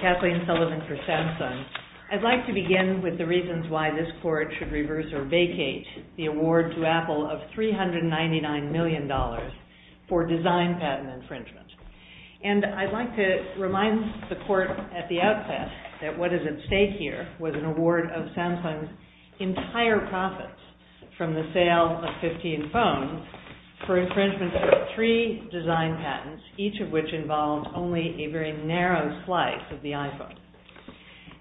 Kathleen Sullivan for Samsung. I'd like to begin with the reasons why this Court should reverse or vacate the award to Apple of $399 million for design patent infringement. And I'd like to remind the Court at the outset that what is at stake here was an award of $115,000 for infringement of three design patents, each of which involved only a very narrow slice of the iPhone.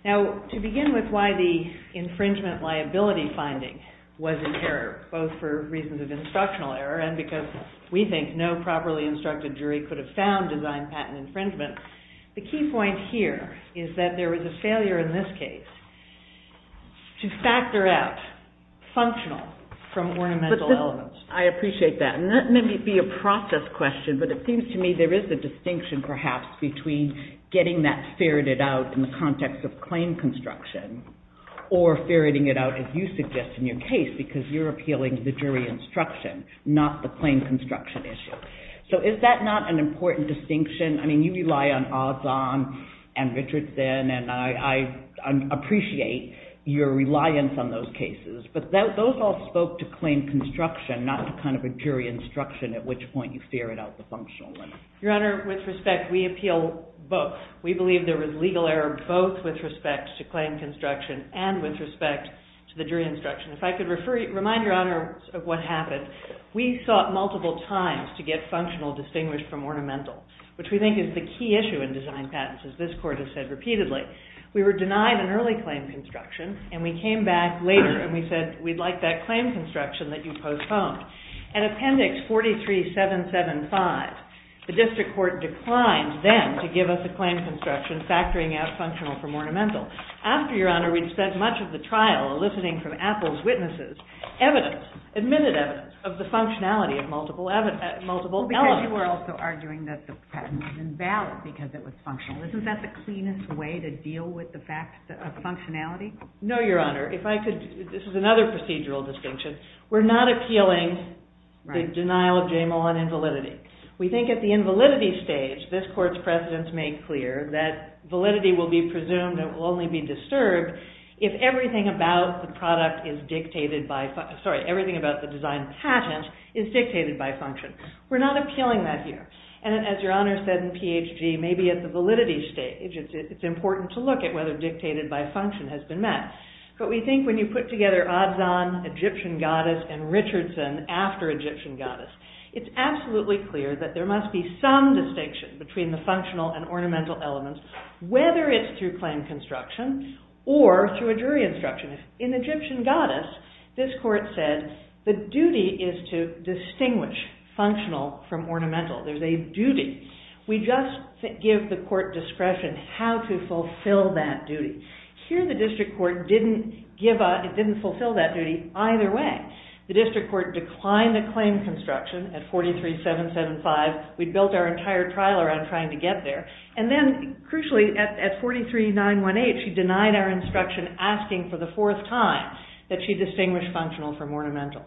Now, to begin with why the infringement liability finding was in error, both for reasons of instructional error and because we think no properly instructed jury could have found design patent infringement, the key point here is that there was a failure in this case to factor out functional from ornamental elements. I appreciate that. And that may be a process question, but it seems to me there is a distinction perhaps between getting that ferreted out in the context of claim construction or ferreting it out as you suggest in your case because you're appealing to the jury instruction, not the claim construction issue. So is that not an important distinction? I mean, you rely on Ozon and Richardson, and I appreciate your reliance on those cases, but those all spoke to claim construction, not to kind of a jury instruction at which point you ferret out the functional. Your Honor, with respect, we appeal both. We believe there was legal error both with respect to claim construction and with respect to the jury instruction. If I could remind Your Honor of what happened, we thought multiple times to get functional from ornamental, which we think is the key issue in design patents, as this court has said repeatedly. We were denied an early claim construction, and we came back later and we said we'd like that claim construction that you postponed. In appendix 43-775, the district court declined then to give us a claim construction factoring out functional from ornamental. After, Your Honor, we've said much of the trial eliciting from Apple's witnesses evidence, admitted evidence, of the functionality of multiple elements. Because you were also arguing that the patent was invalid because it was functional. Isn't that the cleanest way to deal with the fact of functionality? No, Your Honor. If I could, this is another procedural distinction. We're not appealing the denial of JML1 invalidity. We think at the invalidity stage, this court's precedence made clear that validity will be presumed and will only be disturbed if everything about the product is dictated by function. We're not appealing that here. And as Your Honor said in PHG, maybe at the validity stage, it's important to look at whether dictated by function has been met. But we think when you put together Adzan, Egyptian goddess, and Richardson after Egyptian goddess, it's absolutely clear that there must be some distinction between the functional and ornamental elements, whether it's through claim construction or through a jury instruction. In Egyptian goddess, this court said the duty is to distinguish functional from ornamental. There's a duty. We just give the court discretion how to fulfill that duty. Here, the district court didn't give a, it didn't fulfill that duty either way. The district court declined the claim construction at 43-775. We built our entire trial around trying to get there. And then, crucially, at 43-918, she denied our instruction asking for the fourth time that she distinguish functional from ornamental.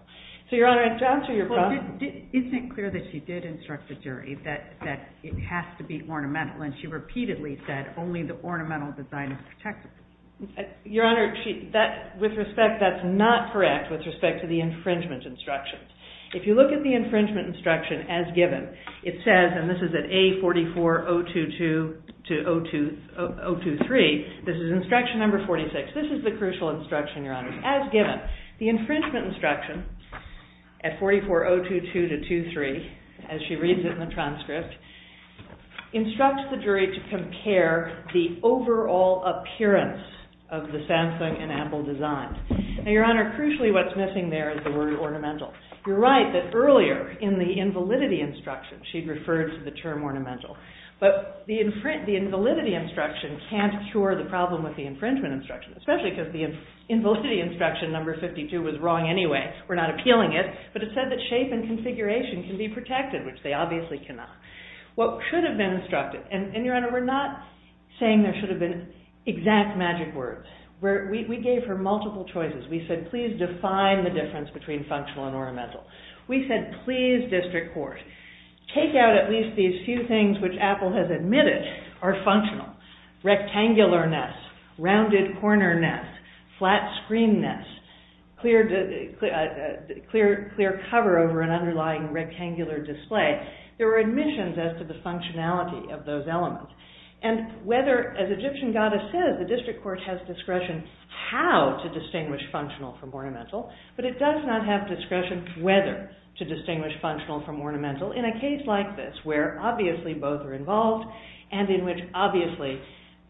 So Your Honor, to answer your question. Well, isn't it clear that she did instruct the jury that it has to be ornamental? And she repeatedly said only the ornamental design is protected. Your Honor, with respect, that's not correct with respect to the infringement instruction. If you look at the infringement instruction as given, the infringement instruction at 44022-23, as she reads it in the transcript, instructs the jury to compare the overall appearance of the Samsung and Apple design. Now, Your Honor, crucially, what's missing there is the word ornamental. You're right that earlier in the invalidity instruction, she referred to the term ornamental. But the invalidity instruction can't cure the problem with the invalidity instruction. Number 52 was wrong anyway. We're not appealing it. But it said that shape and configuration can be protected, which they obviously cannot. What should have been instructed, and Your Honor, we're not saying there should have been exact magic words. We gave her multiple choices. We said, please define the difference between functional and ornamental. We said, please district court, take out at least these few things which Apple has admitted are functional. Rectangular nest, rounded corner nest, flat screen nest, clear cover over an underlying rectangular display. There were admissions as to the functionality of those elements. And whether, as Egyptian goddess says, the district court has discretion how to distinguish functional from ornamental, but it does not have discretion whether to distinguish functional from ornamental in a case like this, where obviously both are involved and in which obviously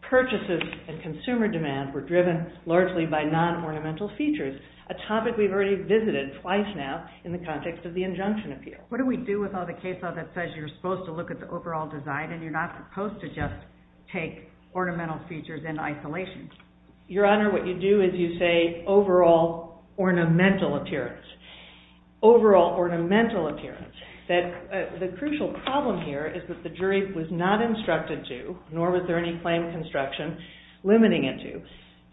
purchases and consumer demand were driven largely by non-ornamental features, a topic we've already visited twice now in the context of the injunction appeal. What do we do with all the case law that says you're supposed to look at the overall design, and you're not supposed to just take ornamental features in isolation? Your Honor, what you do is you say overall ornamental appearance. Overall ornamental appearance. The crucial problem here is that the jury was not instructed to, nor was there any claim of instruction limiting it to,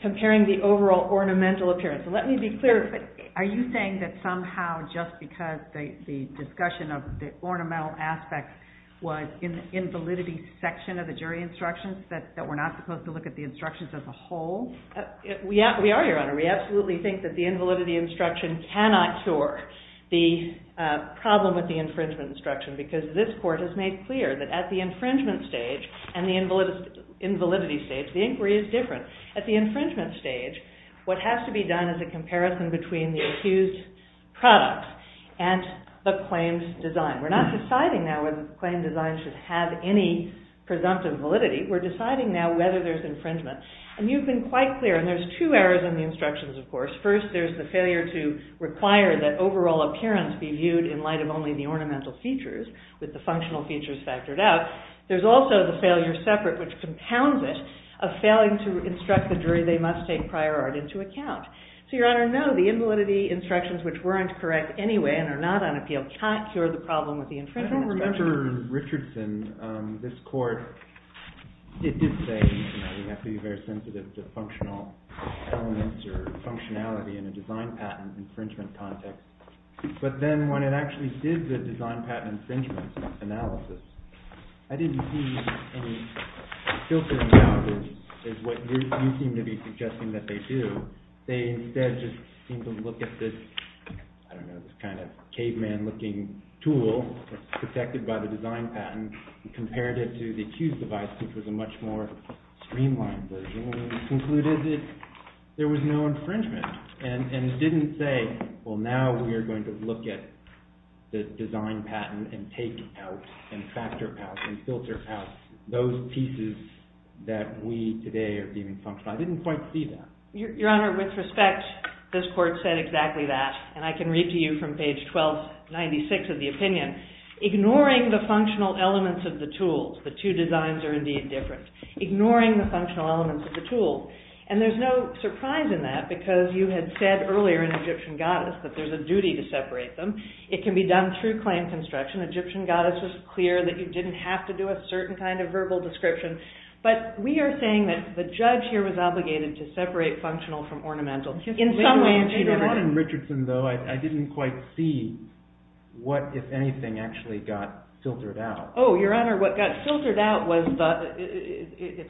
comparing the overall ornamental appearance. Let me be clear, are you saying that somehow just because the discussion of the ornamental aspect was in the invalidity section of the jury instructions that we're not supposed to look at the instructions as a whole? We are, Your Honor. We absolutely think that the invalidity instruction cannot sort the problem of the infringement instruction, because this court has made clear that at the infringement stage and the invalidity stage, the inquiry is different. At the infringement stage, what has to be done is a comparison between the accused product and the claim's design. We're not deciding now whether the claim design should have any presumptive validity. We're deciding now whether there's infringement. And you've been quite clear, and there's two errors in the instructions, of course. First, there's the failure to require that overall appearance be viewed in light of only the ornamental features, with the functional features factored out. There's also the failure separate, which compounds it, of failing to instruct the jury they must take prior art into account. So, Your Honor, no, the invalidity instructions, which weren't correct anyway and are not on appeal, can't cure the problem of the infringement instruction. Remember Richardson, this court, it did say you have to be very sensitive to functional elements or functionality in a design patent infringement context. But then, when it actually did the design patent infringement analysis, I didn't see any filtering out, which is what you seem to be suggesting that they do. They, instead, just seemed to look at this, I don't know, this kind of caveman-looking tool that's protected by the design patent and compared it to the accused device, which was a much more I didn't say, well, now we are going to look at this design patent and take it out and factor out and filter out those pieces that we, today, are deeming functional. I didn't quite see that. Your Honor, with respect, this court said exactly that, and I can read to you from page 1296 of the opinion. Ignoring the functional elements of the tool, the two designs are indeed different. Ignoring the functional elements of the tool. And there's no surprise in that, because you had said earlier in Egyptian Goddess that there's a duty to separate them. It can be done through claim construction. Egyptian Goddess was clear that you didn't have to do a certain kind of verbal description. But we are saying that the judge here was obligated to separate functional from ornamental in some way or another. Your Honor, in Richardson, though, I didn't quite see what, if anything, actually got filtered out. Oh, Your Honor, what got filtered out was the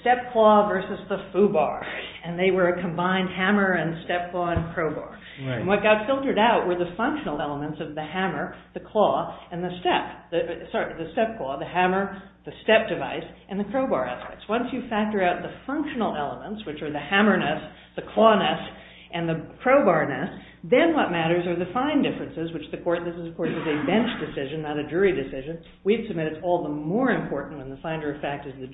step claw versus the foobar. And they were a combined hammer and step claw and crowbar. And what got filtered out were the functional elements of the hammer, the claw, and the step. Sorry, the step claw, the hammer, the step device, and the crowbar aspects. Once you factor out the functional elements, which are the hammerness, the clawness, and the crowbarness, then what matters are the fine differences, which the court, this is, of course, a bench decision, not a jury decision. We've submitted all the more important than the finder of fact is the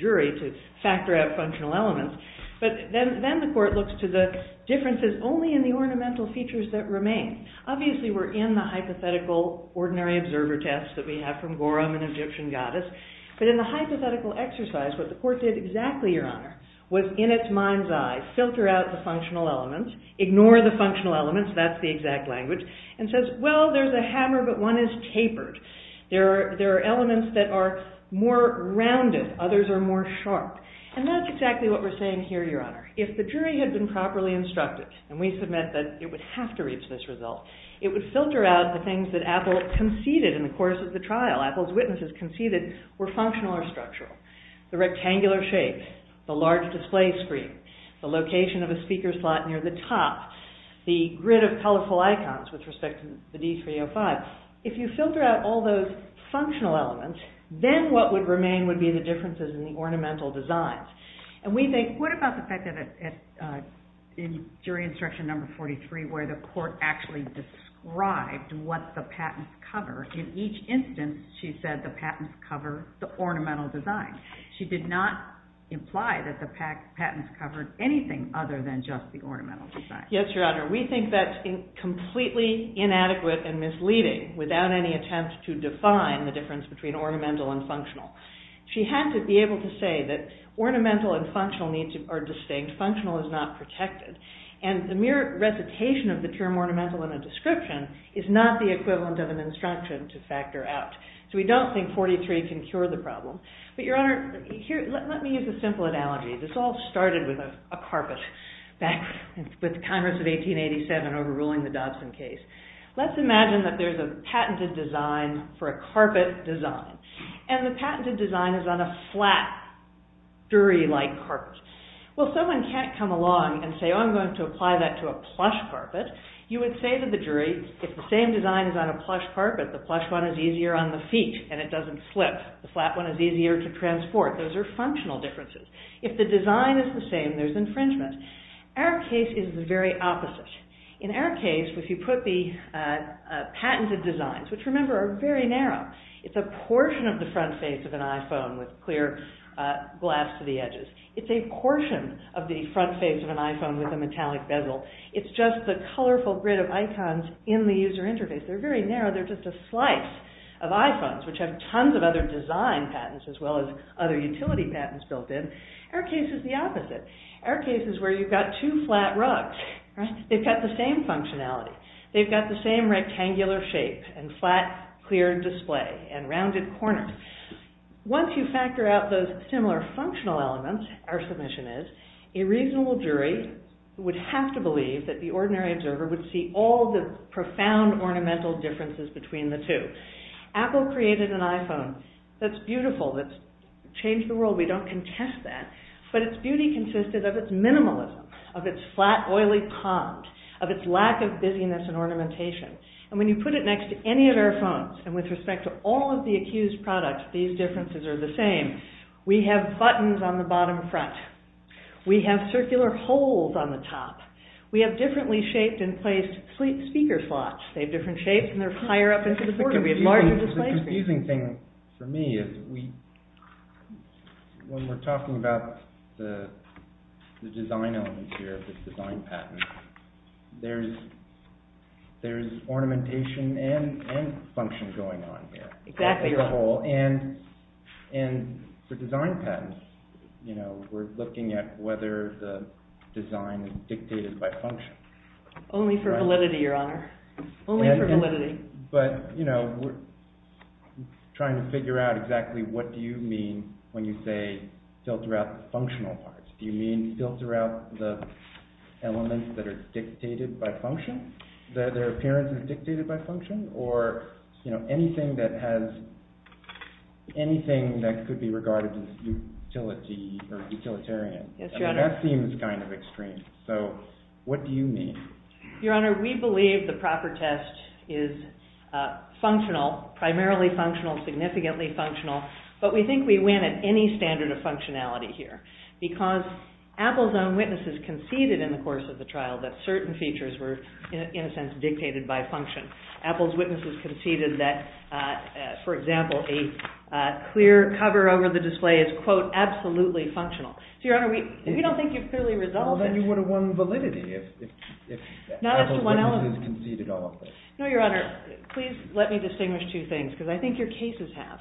differences only in the ornamental features that remain. Obviously, we're in the hypothetical ordinary observer test that we have from Gorham and Egyptian Goddess. But in the hypothetical exercise, what the court did exactly, Your Honor, was in its mind's eye, filter out the functional elements, ignore the functional elements, that's the exact language, and says, well, there's a hammer, but one is tapered. There are elements that are more rounded. Others are more sharp. And that's exactly what we're saying here, Your Honor. If the jury had been properly instructed, and we submit that it would have to reach this result, it would filter out the things that Apple conceded in the course of the trial, Apple's witnesses conceded were functional or structural. The rectangular shape, the large display screen, the location of a speaker slot near the top, the grid of colorful icons with respect to the D305. If you filter out all those functional elements, then what would remain would be the differences in the Let's talk about the fact that in jury instruction number 43, where the court actually described what the patents cover. In each instance, she said the patents cover the ornamental design. She did not imply that the patents covered anything other than just the ornamental design. Yes, Your Honor. We think that's completely inadequate and misleading, without any attempt to define the difference between ornamental and functional. She had to be able to say that ornamental and functional are distinct. Functional is not protected. And the mere recitation of the pure ornamental in a description is not the equivalent of an instruction to factor out. So we don't think 43 can cure the problem. But Your Honor, let me use a simple analogy. This all started with a carpet back with the Congress of 1887 overruling the Dodson case. Let's imagine that there's a patented design for a Well, someone can't come along and say, oh, I'm going to apply that to a plush carpet. You would say to the jury, if the same design is on a plush carpet, the plush one is easier on the feet and it doesn't flip. The flat one is easier to transport. Those are functional differences. If the design is the same, there's infringement. Our case is the very opposite. In our case, if you put the patented designs, which remember are very narrow, it's a portion of the front face of an iPhone with clear glass to the edges. It's a portion of the front face of an iPhone with a metallic bezel. It's just the colorful grid of icons in the user interface. They're very narrow. They're just a slice of iPhones, which have tons of other design patents as well as other utility patents built in. Our case is the opposite. Our case is where you've got two flat rugs. They've got the same functionality. They've got the same rectangular shapes and flat, clear display and rounded corners. Once you factor out those similar functional elements, our submission is, a reasonable jury would have to believe that the ordinary observer would see all the profound ornamental differences between the two. Apple created an iPhone that's beautiful, that's changed the world. We don't contest that, but its beauty consisted of its minimalism, of its flat, oily comp, of its lack of busyness and ornamentation. When you put it next to any of our phones, and with respect to all of the Accused products, these differences are the same. We have buttons on the bottom front. We have circular holes on the top. We have differently shaped and placed speaker slots. They have different shapes and they're higher up into the corner. The confusing thing for me is when we're talking about the design elements here, the design patents, there's ornamentation and function going on here. Exactly right. And for design patents, we're looking at whether the design is dictated by function. Only for validity, Your Honor. Only for validity. But we're trying to figure out exactly what do you mean when you say, filter out the functional parts. Do you mean filter out the elements that are dictated by function? That their appearance is dictated by function? Or anything that could be regarded as utility or utilitarian. Yes, Your Honor. That seems kind of extreme. So, what do you mean? Your Honor, we believe the proper test is functional, primarily functional, significantly functional. But we think we win at any standard of functionality here. Because Apple's own witnesses conceded in the course of the trial that certain features were, in a sense, dictated by function. Apple's witnesses conceded that, for example, a clear cover over the display is, quote, absolutely functional. So, Your Honor, we don't think you've clearly resolved it. Well, then you would have won validity if Apple's witnesses conceded all of it. No, Your Honor. Please let me distinguish two things, because I think your cases have.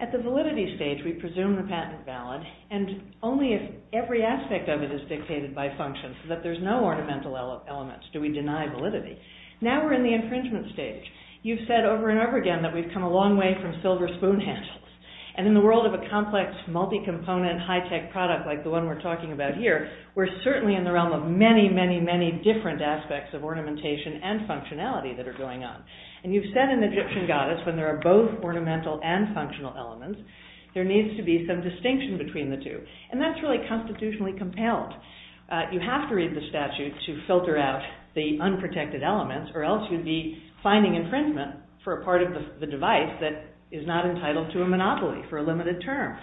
At the validity stage, we presume the patent is valid, and only if every aspect of it is dictated by function. So that there's no ornamental elements. Do we deny validity? Now we're in the infringement stage. You've said over and over again that we've come a long way from silver spoon handles. And in the world of a complex, multi-component, high-tech product like the one we're talking about here, we're certainly in the realm of many, many, many different aspects of ornamentation and functionality that are going on. And you've said in the Gypsum Goddess, when there are both ornamental and functional elements, there needs to be some distinction between the two. And that's really constitutionally compelled. You have to read the statute to filter out the unprotected elements, or else you'd be finding infringement for a part of the device that is not entitled to a monopoly for a limited term.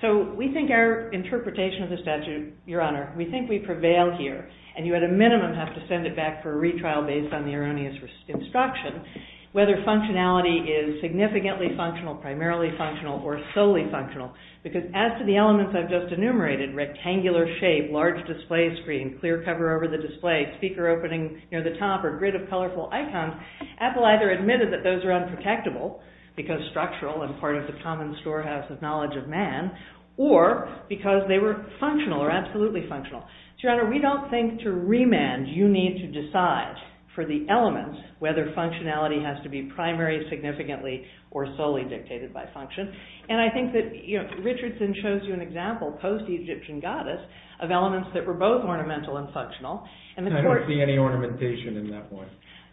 So we think our interpretation of the statute, Your Honor, we think we prevail here. And you, at a minimum, have to send it back for a retrial based on the erroneous instruction, whether functionality is significantly functional, primarily functional, or solely functional. Because as to the elements I've just enumerated, rectangular shape, large display screen, clear cover over the display, speaker opening near the top, or grid of colorful icons, Apple either admitted that those are unprotectable, because structural and part of the common storehouse of knowledge of man, or because they were functional or absolutely functional. So, Your Honor, we don't think to remand you need to decide for the elements whether functionality has to be primary, significantly, or solely dictated by function. And I think that Richardson shows you an example, post-Egyptian goddess, of elements that were both ornamental and functional. I don't see any ornamentation in that one.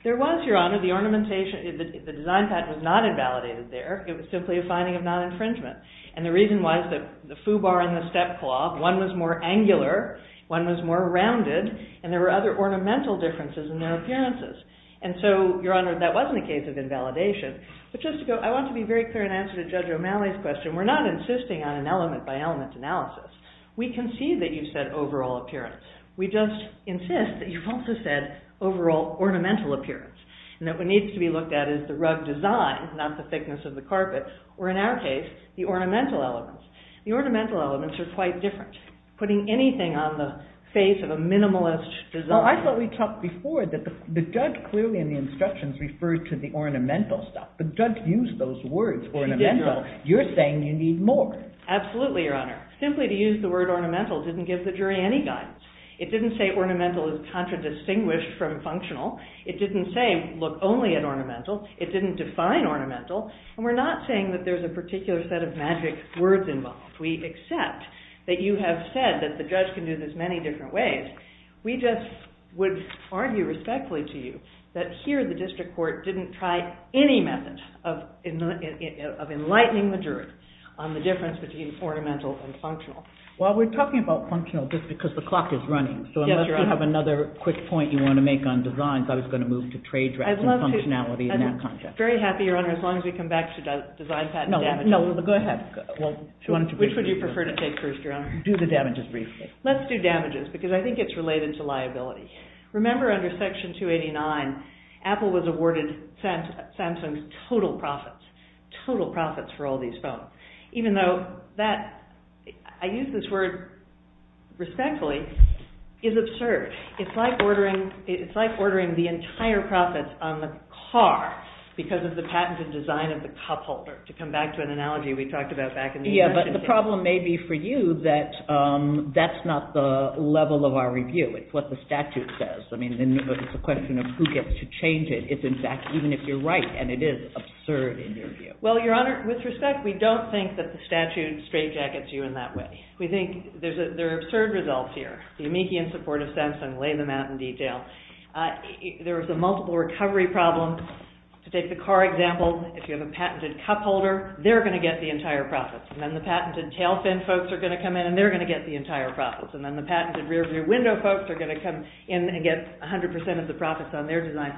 There was, Your Honor, the ornamentation, the design patent was not invalidated there. It was simply a finding of non-infringement. And the reason was that the foobar and the stepclaw, one was more angular, one was more rounded, and there were other ornamental differences in their appearances. And so, Your Honor, that wasn't a case of invalidation. But just to go, I want to be very clear in answer to Judge O'Malley's question, we're not insisting on an element by element analysis. We can see that you said overall appearance. We just insist that you also said overall ornamental appearance, and that what needs to be looked at is the rug design, not the thickness of the carpet, or in our case, the ornamental elements. The ornamental elements are quite different. Putting anything on the face of a minimalist design... Well, I thought we talked before that the judge clearly in the instructions referred to the ornamental stuff. The judge used those words, ornamental. You're saying you need more. Absolutely, Your Honor. Simply to use the word ornamental didn't give the jury any guidance. It didn't say ornamental is contradistinguished from functional. It didn't say look only at ornamental. It didn't define ornamental. And we're not saying that there's a particular set of magic words involved. We accept that you have said that the judge can do this many different ways. We just would argue respectfully to you that here the district court didn't try any method of enlightening the jury on the difference between ornamental and functional. Well, we're talking about functional just because the clock is running. So unless you have another quick point you want to make on designs, I was going to move to trade drafts and functionality in that context. Very happy, Your Honor, as long as we come back to design patent damages. No, go ahead. Which would you prefer to take first, Your Honor? Do the damages briefly. Let's do damages because I think it's related to liability. Remember under Section 289, Apple was awarded Samsung's total profits, total profits for all these phones. Even though that, I use this word respectfully, is absurd. It's like ordering the entire profits on the car because of the patented design of the cup holder, to come back to an analogy we talked about back in the United States. Yeah, but the problem may be for you that that's not the level of our review. It's what the statute says. I mean, it's a question of who gets to change it. It's in fact, even if you're right, and it is absurd in your view. Well, Your Honor, with respect, we don't think that the statute straightjackets you in that way. We think there are absurd results here. The amici in support of Samsung lay them out in detail. There is a multiple recovery problem. Take the car example. If you have a patented cup holder, they're going to get the entire profits. And then the patented tail fin folks are going to come in and they're going to get the entire profits. And then the patented rear view window folks are going to come in and get 100% of the profits on their design.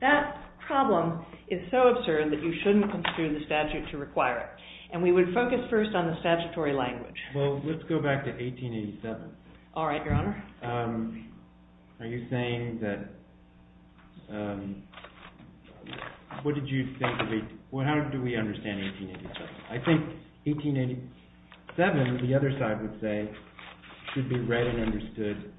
That problem is so absurd that you shouldn't construe the statute to require it. And we would focus first on the statutory language. Well, let's go back to 1887. All right, Your Honor. Are you saying that – what did you think – how do we understand 1887? I think 1887, the other side would say, should be read and understood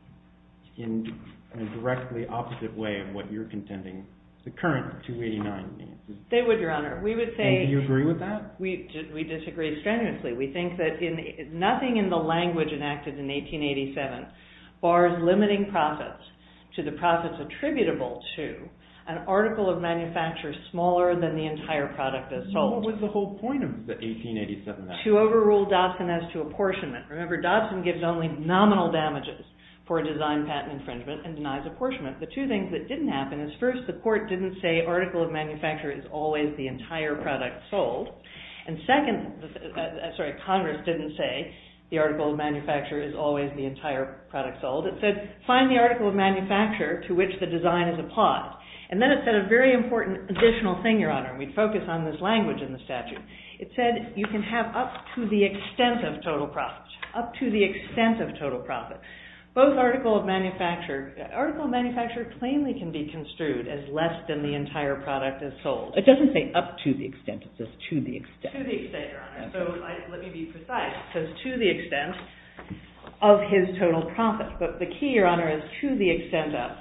in a directly opposite way of what you're contending the current 289 means. They would, Your Honor. We would say – And do you agree with that? We disagree strenuously. We think that nothing in the language enacted in 1887 bars limiting profits to the profits attributable to an article of manufacture smaller than the entire product that's sold. What was the whole point of 1887? To overrule Dobson as to apportionment. Remember, Dobson gives only nominal damages for design patent infringement and denies apportionment. The two things that didn't happen is, first, the court didn't say article of manufacture is always the entire product sold. And second – sorry, Congress didn't say the article of manufacture is always the entire product sold. It said, find the article of manufacture to which the design is applied. And then it said a very important additional thing, Your Honor, and we'd focus on this language in the statute. It said you can have up to the extent of total profits, up to the extent of total profits. Both article of manufacture – article of manufacture plainly can be construed as less than the entire product that's sold. It doesn't say up to the extent. It says to the extent. To the extent, Your Honor. So let me be precise. It says to the extent of his total profits. But the key, Your Honor, is to the extent of.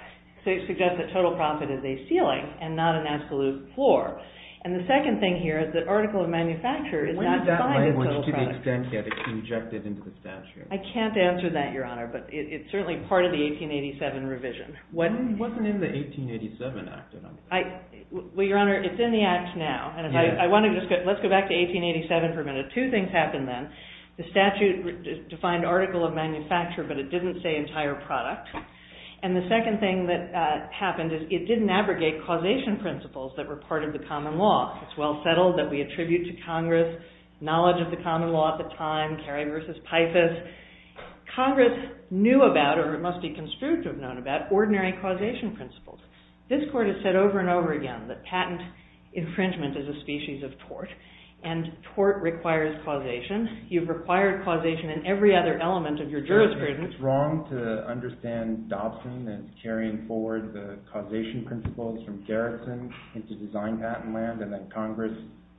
So it suggests that total profit is a ceiling and not an absolute floor. And the second thing here is that article of manufacture is not defined as a product. What does that language, to the extent, get rejected into the statute? I can't answer that, Your Honor, but it's certainly part of the 1887 revision. What's in the 1887 Act, then? Well, Your Honor, it's in the Act now. Let's go back to 1887 for a minute. Two things happened then. The statute defined article of manufacture, but it didn't say entire product. And the second thing that happened is it didn't abrogate causation principles that were part of the common law. It's well settled that we attribute to Congress knowledge of the common law at the time, Cary v. Pipus. Congress knew about, or it must be construed to have known about, ordinary causation principles. This Court has said over and over again that patent infringement is a species of tort. And tort requires causation. You've required causation in every other element of your jurisprudence. Is it wrong to understand Dobson in carrying forward the causation principles from Garrison into design patent land and then Congress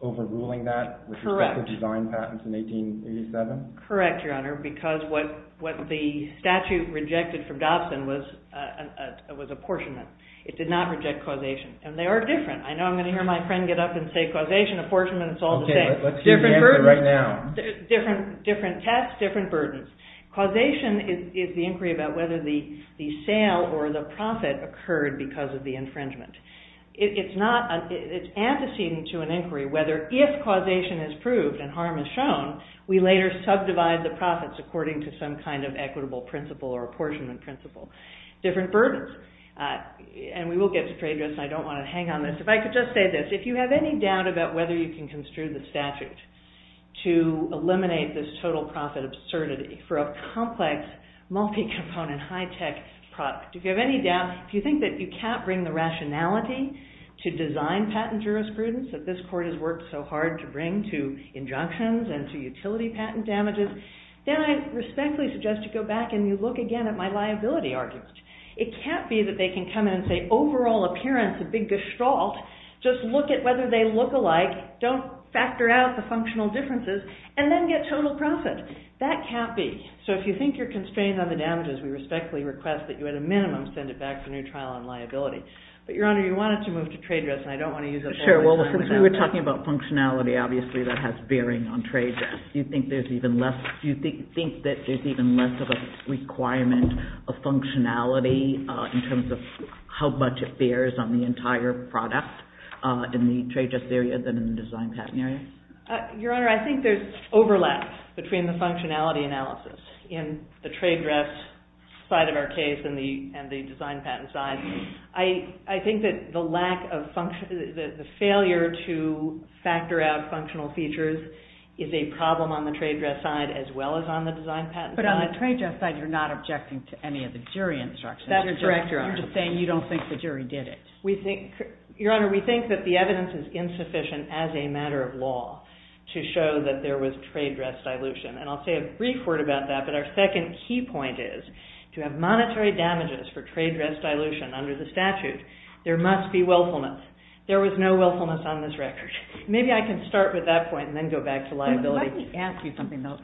overruling that with respect to design patents in 1887? Correct, Your Honor, because what the statute rejected from Dobson was apportionment. It did not reject causation. And they were different. I know I'm going to hear my friend get up and say causation, apportionment, it's all the same. Different tests, different burdens. Causation is the inquiry about whether the sale or the profit occurred because of the infringement. It's antecedent to an inquiry whether if causation is proved and harm is shown, we later subdivide the profits according to some kind of equitable principle or apportionment principle. Different burdens. And we will get to trade risks and I don't want to hang on this. If I could just say this, if you have any doubt about whether you can construe the statute to eliminate this total profit absurdity for a complex, multi-component, high-tech product, if you have any doubt, if you think that you can't bring the rationality to design patent jurisprudence that this court has worked so hard to bring to injunctions and to utility patent damages, then I respectfully suggest you go back and you look again at my liability argument. It can't be that they can come in and say overall appearance is a big gestalt, just look at whether they look alike, don't factor out the functional differences, and then get total profit. That can't be. So if you think you're constrained on the damages, we respectfully request that you at a minimum send it back to new trial on liability. But Your Honor, you wanted to move to trade risks and I don't want to use that. Sure, well since we were talking about functionality, obviously that has bearing on trade risks. Do you think there's even less of a requirement of functionality in terms of how much it bears on the entire product in the trade risk area than in the design patent area? Your Honor, I think there's overlap between the functionality analysis in the trade risk side of our case and the design patent side. I think that the failure to factor out functional features is a problem on the trade risk side as well as on the design patent side. But on the trade risk side, you're not objecting to any of the jury instructions. That's correct, Your Honor. I'm just saying you don't think the jury did it. Your Honor, we think that the evidence is insufficient as a matter of law to show that there was trade risk dilution. And I'll say a brief word about that, but our second key point is to have monetary damages for trade risk dilution under the statute. There must be willfulness. There was no willfulness on this record. Maybe I can start with that point and then go back to liability. Let me ask you something though.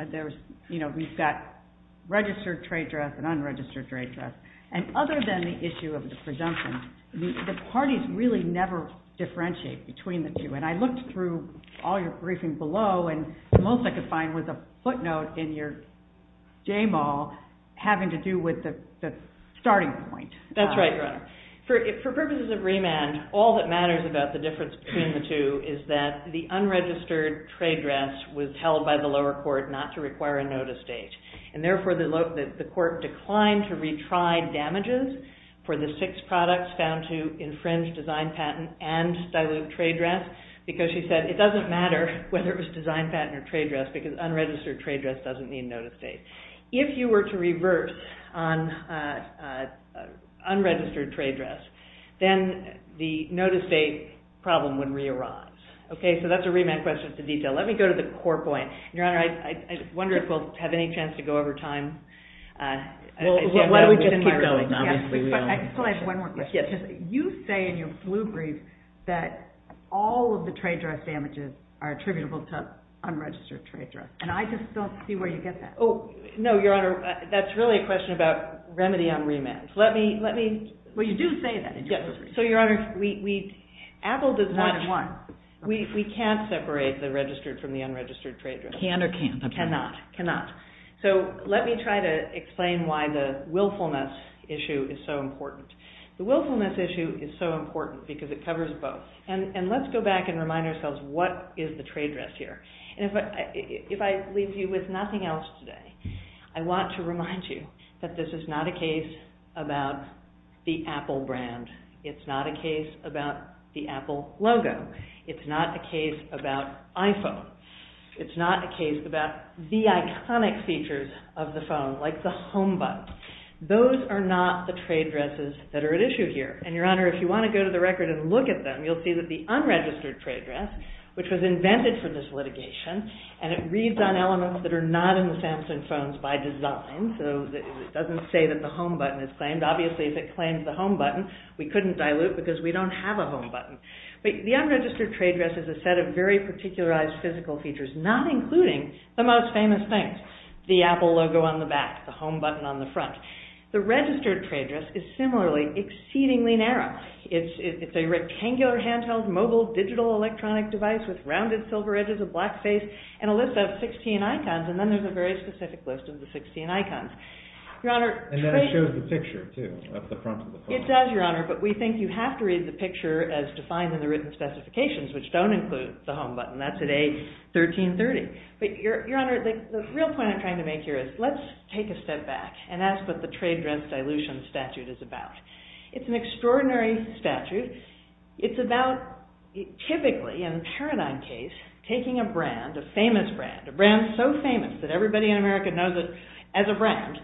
We've got registered trade risk and unregistered trade risk. And other than the issue of the presumption, the parties really never differentiate between the two. And I looked through all your briefings below and the most I could find was a footnote in your game all having to do with the starting point. That's right, Your Honor. For purposes of remand, all that matters about the difference between the two is that the unregistered trade grants was held by the lower court not to require a notice date. And therefore, the court declined to retry damages for the six products found to infringe design patent and the trade grant because she said, it doesn't matter whether it was design patent or trade risk because unregistered trade risk doesn't need notice date. If you were to reverse on unregistered trade risk, then the notice date problem would re-arise. Okay, so that's a remand question with the detail. Let me go to the core point. Your Honor, I wonder if we'll have any chance to go over time. Well, why don't we just keep going. I can still ask one more question. You say in your blue brief that all of the trade risk damages are attributable to unregistered trade risk. And I just don't see where you get that. Oh, no, Your Honor. That's really a question about remedy on remand. Well, you do say that. So, Your Honor, Apple does not want, we can't separate the registered from the unregistered trade risk. Can or can't? Cannot, cannot. So, let me try to explain why the willfulness issue is so important. The willfulness issue is so important because it covers both. And let's go back and remind ourselves what is the trade risk here. And if I leave you with nothing else today, I want to remind you that this is not a case about the Apple brand. It's not a case about the Apple logo. It's not a case about iPhone. It's not a case about the iconic features of the phone, like the home button. Those are not the trade risks that are at issue here. And, Your Honor, if you want to go to the record and look at them, you'll see that the unregistered trade risk, which was invented for this litigation, and it reads on elements that are not in the Samsung phones by design. So, it doesn't say that the home button is claimed. Obviously, if it claims the home button, we couldn't dilute because we don't have a home button. The unregistered trade risk is a set of very particularized physical features, not including the most famous things, the Apple logo on the back, the home button on the front. The registered trade risk is similarly exceedingly narrow. It's a rectangular handheld mobile digital electronic device with rounded silver edges, a black face, and a list of 16 icons. And then there's a very specific list of the 16 icons. Your Honor, And then it shows the picture, too, at the front of the phone. It does, Your Honor, but we think you have to read the picture as defined in the written specifications, which don't include the home button. That's at A1330. But, Your Honor, the real point I'm trying to make here is let's take a step back, and ask what the trade risk dilution statute is about. It's an extraordinary statute. It's about, typically, in a paradigm case, taking a brand, a famous brand, a brand so famous that everybody in America knows it as a brand,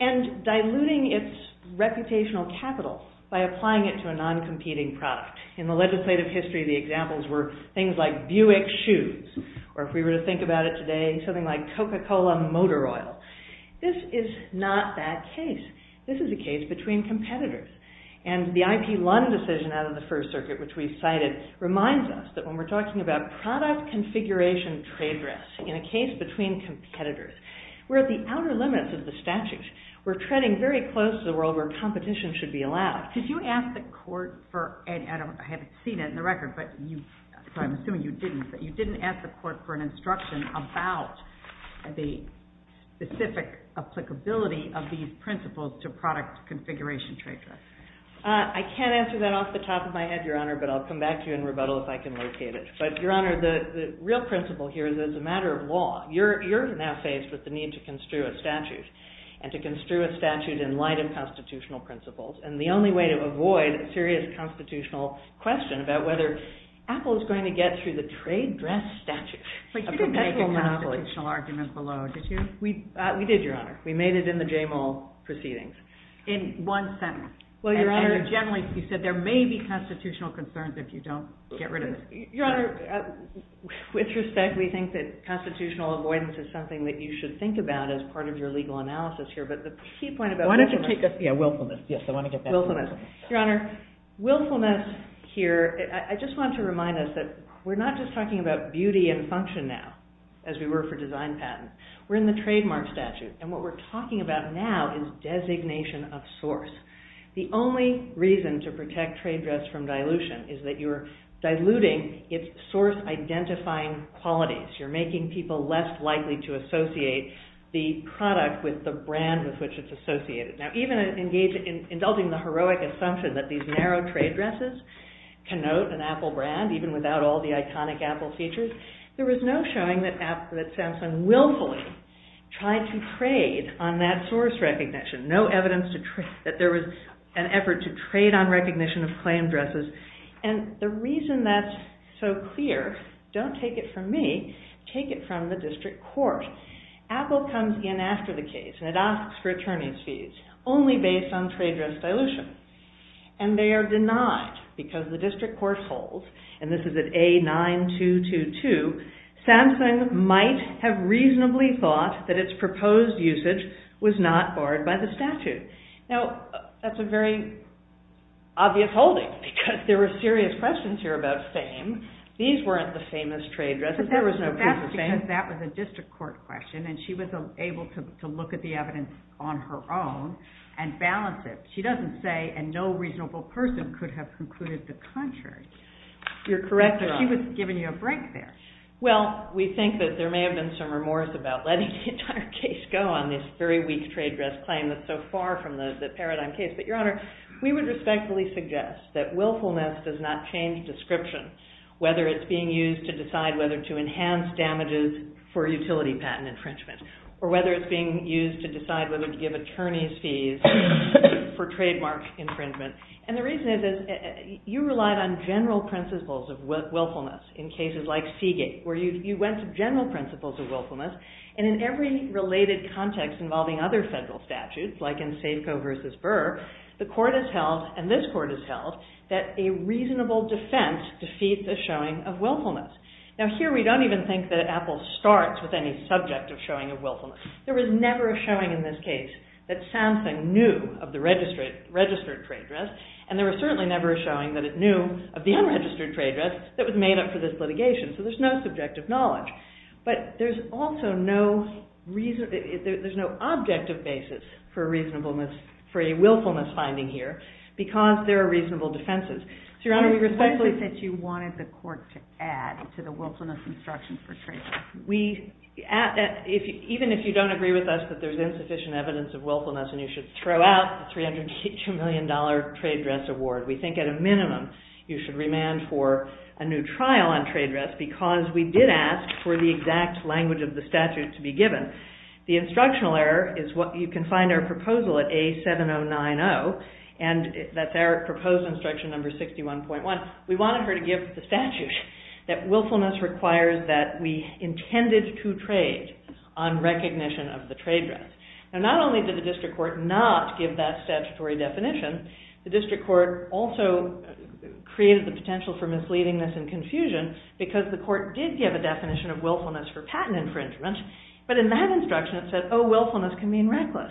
and diluting its reputational capital by applying it to a non-competing product. In the legislative history, the examples were things like Buick shoes, or if we were to think about it today, something like Coca-Cola motor oil. This is not that case. This is a case between competitors. And the IP Lund decision out of the First Circuit, which we cited, reminds us that when we're talking about product configuration trade risks in a case between competitors, we're at the outer limits of the statute. We're treading very close to a world where competition should be allowed. Could you ask the court for, and I haven't seen it in the record, but I'm assuming you didn't, but you didn't ask the court for an instruction about the specific applicability of these principles to product configuration trade risks. I can't answer that off the top of my head, Your Honor, but I'll come back to you in rebuttal if I can locate it. But, Your Honor, the real principle here is it's a matter of law. You're in that phase with the need to construe a statute, and to construe a statute in light of constitutional principles. And the only way to avoid a serious constitutional question about whether Apple is going to get through the trade dress statute. But you didn't make a constitutional argument below, did you? We did, Your Honor. We made it in the Jamal proceedings. In one sentence? Well, Your Honor, generally, you said there may be constitutional concerns if you don't get rid of it. Your Honor, with respect, we think that constitutional avoidance is something that you should think about as part of your legal analysis here. Your Honor, willfulness here, I just want to remind us that we're not just talking about beauty and function now, as we were for design patents. We're in the trademark statute, and what we're talking about now is designation of source. The only reason to protect trade dress from dilution is that you're diluting its source-identifying qualities. You're making people less likely to associate the product with the brand with which it's associated. Now, even indulging the heroic assumption that these narrow trade dresses connote an Apple brand, even without all the iconic Apple features, there was no showing that Samsung willfully tried to trade on that source recognition. No evidence that there was an effort to trade on recognition of claimed dresses. And the reason that's so clear, don't take it from me, take it from the district court. Apple comes in after the case, and it asks for attorney's fees only based on trade dress dilution, and they are denied because the district court holds, and this is at A9222, Samsung might have reasonably thought that its proposed usage was not barred by the statute. Now, that's a very obvious holding, because there are serious questions here about fame. These weren't the famous trade dresses. There was no proof of fame. That's because that was a district court question, and she was able to look at the evidence on her own and balance it. She doesn't say, and no reasonable person could have concluded the contrary. You're correct. She was giving you a break there. Well, we think that there may have been some remorse about letting the entire case go on this very weak trade dress claim that's so far from the paradigm case. But, Your Honor, we would respectfully suggest that willfulness does not change description, whether it's being used to decide whether to enhance damages for utility patent infringement, or whether it's being used to decide whether to give attorney's fees for trademark infringement. And the reason is, you relied on general principles of willfulness in cases like Seagate, where you went to general principles of willfulness, and in every related context involving other federal statutes, like in Safeco v. Burr, the court has held, and this court has held, that a reasonable defense defeats the showing of willfulness. Now, here we don't even think that Apple starts with any subject of showing of willfulness. There was never a showing in this case that Samsung knew of the registered trade dress, and there was certainly never a showing that it knew of the unregistered trade dress that was made up for this litigation. So there's no subjective knowledge. But there's also no reason, there's no objective basis for a reasonableness, for a willfulness finding here, because there are reasonable defenses. So, Your Honor, we respectfully... You said that you wanted the court to add to the willfulness instruction for trade dress. Even if you don't agree with us that there's insufficient evidence of willfulness, and you should throw out a $302 million trade dress award, we think at a minimum you should remand for a new trial on trade dress, because we did ask for the exact language of the statute to be given. The instructional error is what you can find in our proposal at A7090, and that's our proposal instruction number 61.1. We wanted her to give the statute that willfulness requires that we intended to trade on recognition of the trade dress. And not only did the district court not give that statutory definition, the district court also created the potential for misleadingness and confusion because the court did give a definition of willfulness for patent infringement, but in that instruction it said, oh, willfulness can mean reckless.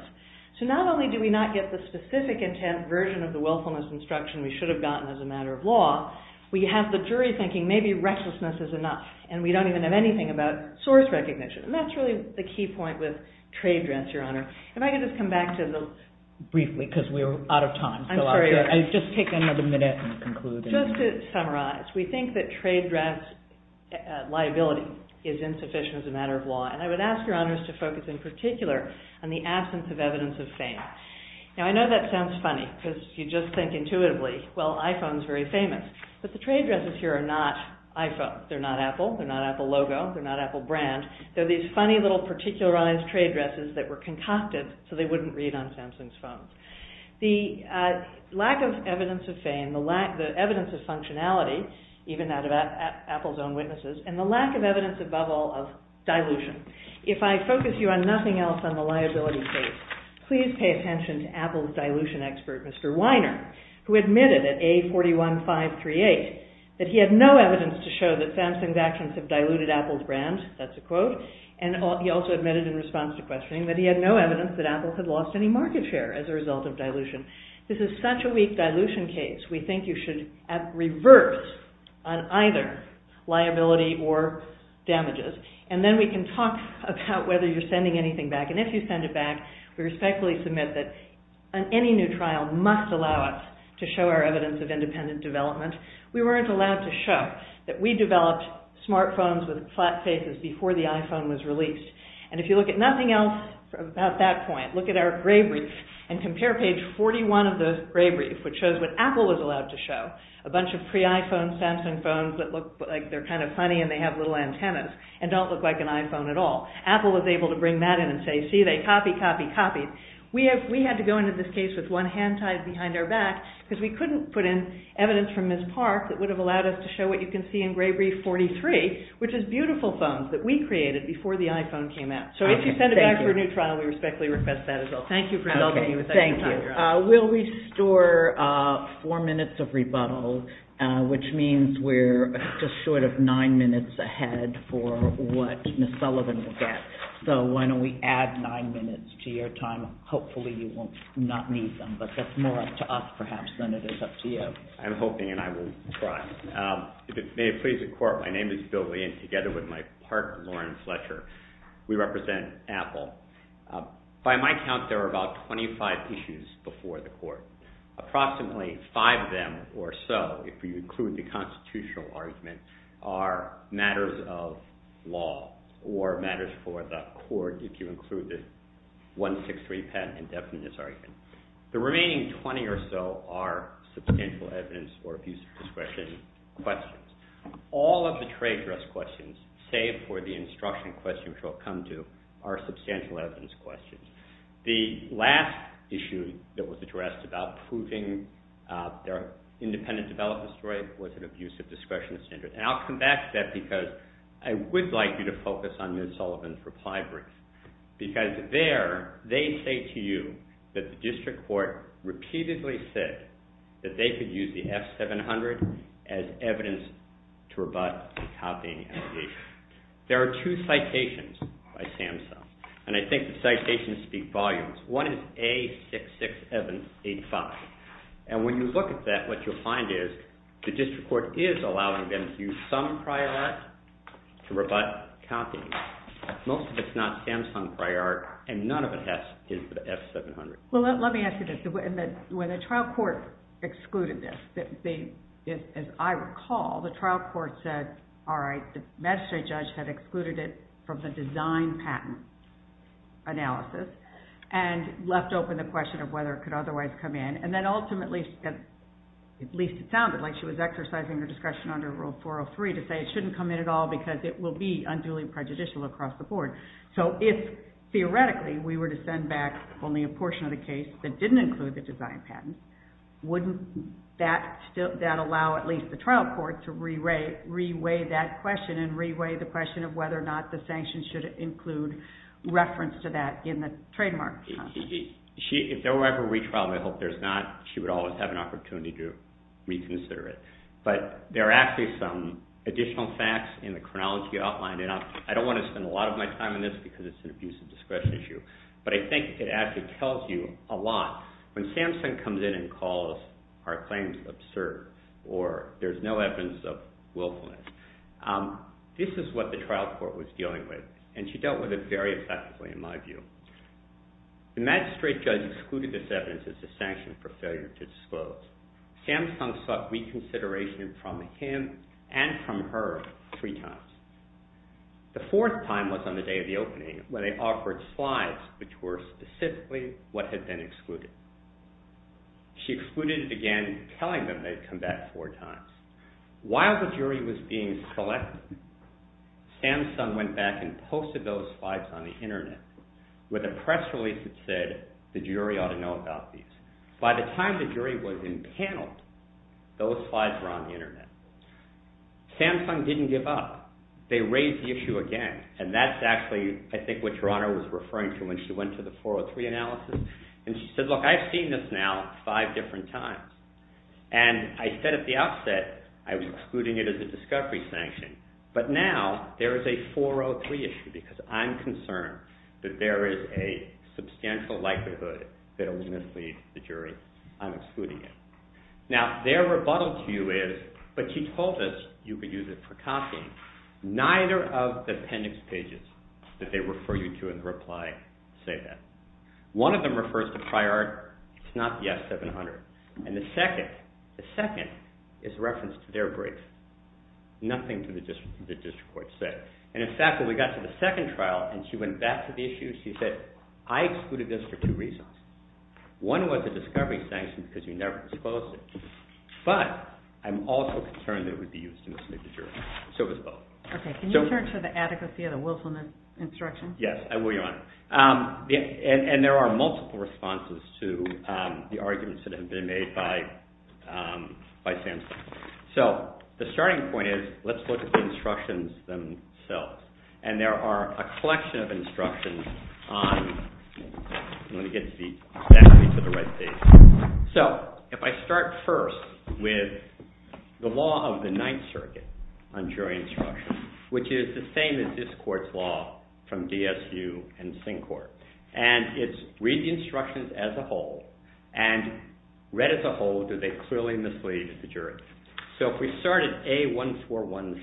So not only do we not get the specific intent version of the willfulness instruction we should have gotten as a matter of law, we have the jury thinking maybe recklessness is enough, and we don't even have anything about source recognition. And that's really the key point with trade dress, Your Honor. If I could just come back to the... Briefly, because we're out of time. I'm sorry. Just take another minute to conclude. And I would ask Your Honors to focus in particular on the absence of evidence of fame. Now, I know that sounds funny because you just think intuitively, well, iPhone's very famous. But the trade dresses here are not iPhone. They're not Apple. They're not Apple logo. They're not Apple brand. They're these funny little particularized trade dresses that were concocted so they wouldn't read on Samson's phone. The lack of evidence of fame, the evidence of functionality, even out of Apple's own witnesses, and the lack of evidence above all of dilution. If I focus you on nothing else on the liability case, please pay attention to Apple's dilution expert, Mr. Weiner, who admitted at A41538 that he had no evidence to show that Samson's actions have diluted Apple's brand. That's a quote. And he also admitted in response to questioning that he had no evidence that Apple had lost any market share as a result of dilution. This is such a weak dilution case. We think you should revert on either liability or damages. And then we can talk about whether you're sending anything back. And if you send it back, we respectfully submit that any new trial must allow us to show our evidence of independent development. We weren't allowed to show that we developed smartphones with flat faces before the iPhone was released. And if you look at nothing else about that point, look at our gray brief and compare page 41 of the gray brief, which shows what Apple was allowed to show, a bunch of pre-iPhone Samson phones that look like they're kind of funny and they have little antennas and don't look like an iPhone at all. Apple was able to bring that in and say, see, they copy, copy, copy. We had to go into this case with one hand tied behind our back because we couldn't put in evidence from Ms. Park that would have allowed us to show what you can see in gray brief 43, which is beautiful phones that we created before the iPhone came out. So if you send it back for a new trial, we respectfully request that as well. Thank you for not taking the second time around. We'll restore four minutes of rebuttal, which means we're just short of nine minutes ahead for what Ms. Sullivan will get. So why don't we add nine minutes to your time. Hopefully you will not need them. But that's more up to us perhaps than it is up to you. I'm hoping and I will try. May it please the court, my name is Bill Lane. Together with my partner, Lauren Fletcher, we represent Apple. By my count, there were about 25 issues before the court. Approximately five of them or so, if you include the constitutional argument, are matters of law or matters for the court, if you include the 163 patent indefiniteness argument. The remaining 20 or so are substantial evidence or abuse of discretion questions. All of the trade dress questions, save for the instruction questions we'll come to, are substantial evidence questions. The last issue that was addressed about proving their independent development story was an abuse of discretion standard. And I'll come back to that because I would like you to focus on Ms. Sullivan's reply brief. Because there, they say to you that the district court repeatedly said that they could use the F700 as evidence to rebut copying. There are two citations by SAMHSA. And I think the citations speak volumes. One is A66785. And when you look at that, what you'll find is the district court is allowing them to use some private to rebut copying. Most of it's not SAMHSA in prior. And none of it has to do with the F700. Well, let me answer this. When the trial court excluded this, as I recall, the trial court said, all right, the magistrate judge had excluded it from the design patent analysis and left open the question of whether it could otherwise come in. And then ultimately, at least it sounded like she was exercising her discretion under Rule 403 to say it shouldn't come in at all because it will be unduly prejudicial across the board. So if, theoretically, we were to send back only a portion of the case that didn't include the design patent, wouldn't that allow at least the trial court to reweigh that question and reweigh the question of whether or not the sanction should include reference to that in the trademark? If there were ever a retrial, I hope there's not. She would always have an opportunity to reconsider it. But there are actually some additional facts in the chronology outline, and I don't want to spend a lot of my time on this because it's an abuse of discretion issue, but I think it actually tells you a lot when SAMHSA comes in and calls our claims absurd or there's no evidence of willfulness. This is what the trial court was dealing with, and she dealt with it very effectively, in my view. The magistrate judge excluded this evidence as a sanction for failure to disclose. SAMHSA sought reconsideration from him and from her three times. The fourth time was on the day of the opening where they offered slides, which were specifically what had been excluded. She excluded it again, telling them they'd come back four times. While the jury was being selected, SAMHSA went back and posted those slides on the Internet with a press release that said the jury ought to know about these. By the time the jury was entangled, those slides were on the Internet. SAMHSA didn't give up. They raised the issue again, and that's actually, I think, what Your Honor was referring to when she went to the 403 analysis. And she said, look, I've seen this now five different times. And I said at the outset I was excluding it as a discovery sanction, but now there is a 403 issue because I'm concerned that there is a substantial likelihood that it will mislead the jury. I'm excluding it. Now, their rebuttal to you is, but she told us you could use it for copying, neither of the appendix pages that they refer you to in the reply say that. One of them refers to Friar, it's not the F700. And the second, the second is a reference to their brief. Nothing to the district court said. And in fact, when we got to the second trial and she went back to the issue, she said I excluded this for two reasons. One was a discovery sanction because you never disclosed it, but I'm also concerned that it would be used to mislead the jury. So it was both. Okay. Can you turn to the adequacy of the Wilson instruction? Yes, I will, Your Honor. And there are multiple responses to the arguments that have been made by SAMHSA. So the starting point is let's look at the instructions themselves. And there are a collection of instructions on, let me get back to the red paper. So if I start first with the law of the Ninth Circuit on jury instruction, which is the same as this court's law from DSU and Sync Court. And it's read the instructions as a whole. And read as a whole, do they clearly mislead the jury? So if we start at A1417,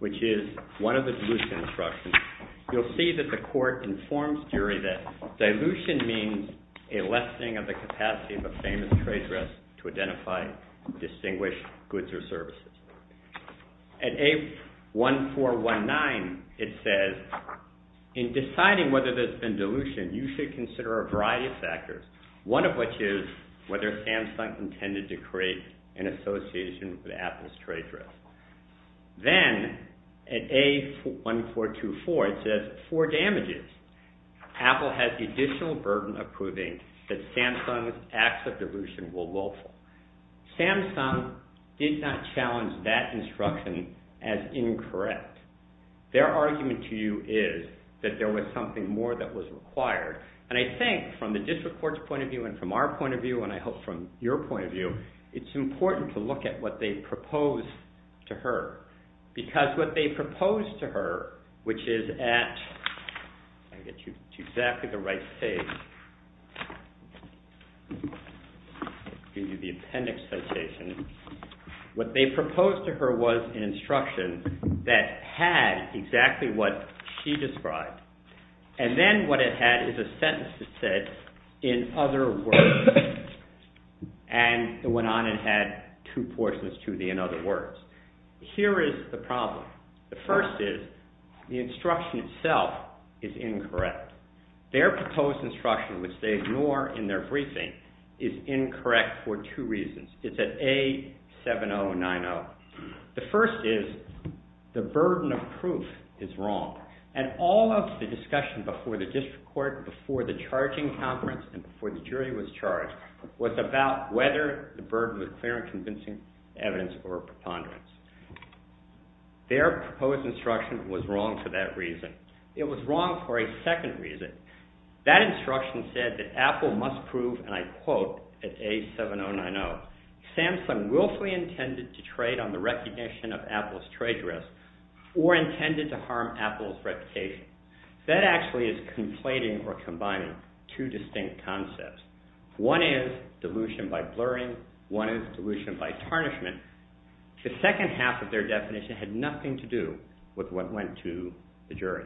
which is one of the dilution instructions, you'll see that the court informs jury that dilution means a lessening of the capacity of a famous trade dress to identify distinguished goods or services. At A1419, it says in deciding whether there's been dilution, you should consider a variety of factors, one of which is whether SAMHSA intended to create an association with Apple's trade dress. Then at A1424, it says four damages. Apple has additional burden of proving that SAMHSA acts of dilution were lawful. SAMHSA did not challenge that instruction as incorrect. Their argument to you is that there was something more that was required. And I think from the district court's point of view and from our point of view and I hope from your point of view, it's important to look at what they proposed to her. Because what they proposed to her, which is at, let me get you to exactly the right page. These would be appendix citation. What they proposed to her was an instruction that had exactly what she described. And then what it had is a sentence that said in other words. And it went on and had two portions to the in other words. Here is the problem. The first is the instruction itself is incorrect. Their proposed instruction, which they ignore in their briefing, is incorrect for two reasons. It's at A7090. The first is the burden of proof is wrong. And all of the discussion before the district court, before the charging conference and before the jury was charged was about whether the burden was clear and convincing evidence or a preponderance. Their proposed instruction was wrong for that reason. It was wrong for a second reason. That instruction said that Apple must prove and I quote at A7090. SAMHSA willfully intended to trade on the recognition of Apple's trade risk or intended to harm Apple's reputation. That actually is conflating or combining two distinct concepts. One is dilution by blurring. One is dilution by tarnishment. The second half of their definition had nothing to do with what went to the jury.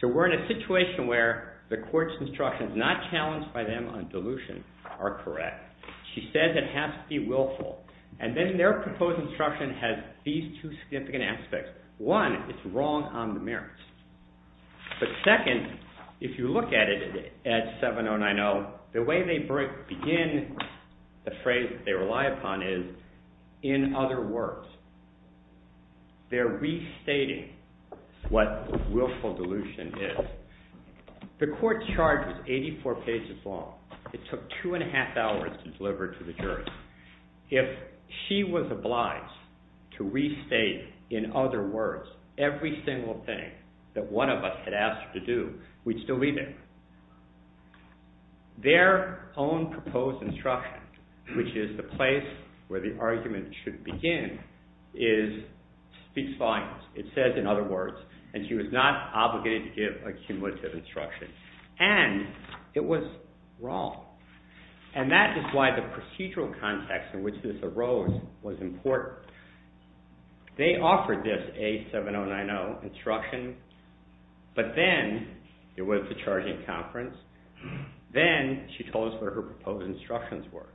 So we're in a situation where the court's instructions not challenged by them on dilution are correct. She said that it has to be willful. And then their proposed instruction has these two significant aspects. One is wrong on the merits. The second, if you look at it at A7090, the way they begin the phrase they rely upon is in other words. They're restating what willful dilution is. The court charge is 84 pages long. It took two and a half hours to deliver it to the jury. If she was obliged to restate in other words every single thing that one of us had asked her to do, we'd still leave it. Their own proposed instruction, which is the place where the argument should begin, is speech violence. It says in other words, and she was not obligated to give a cumulative instruction. And it was wrong. And that is why the procedural context in which this arose was important. They offered this A7090 instruction. But then there was the charging conference. Then she told us where her proposed instructions were.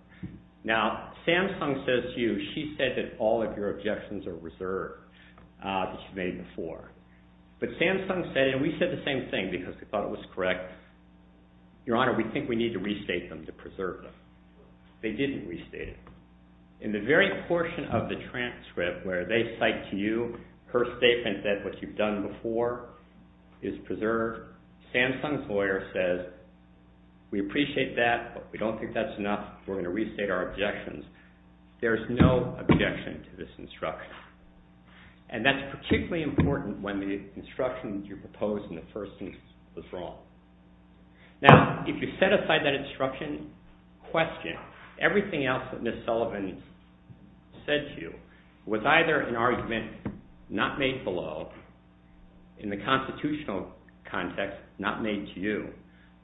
Now, Samsung says to you, she said that all of your objections are reserved, as she made before. But Samsung said, and we said the same thing because we thought it was correct. Your Honor, we think we need to restate them to preserve them. They didn't restate it. In the very portion of the transcript where they cite to you her statement that what you've done before is preserved, Samsung's lawyer says, we appreciate that, but we don't think that's enough. We're going to restate our objections. There's no objection to this instruction. And that's particularly important when the instruction that you proposed in the first instance was wrong. Now, if you set aside that instruction, question everything else that Ms. Sullivan said to you was either an argument not made below, in the constitutional context, not made to you,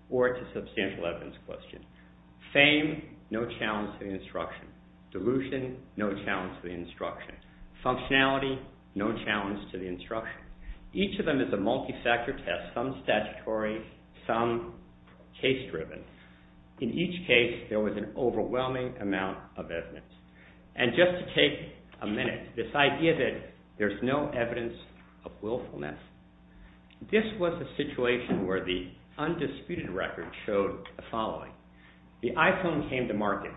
or it's a substantial evidence question. Fame, no challenge to the instruction. Delusion, no challenge to the instruction. Functionality, no challenge to the instruction. Each of them is a multi-factor test, some statutory, some case-driven. In each case, there was an overwhelming amount of evidence. And just to take a minute, this idea that there's no evidence of willfulness, this was a situation where the undisputed record showed the following. The iPhone came to market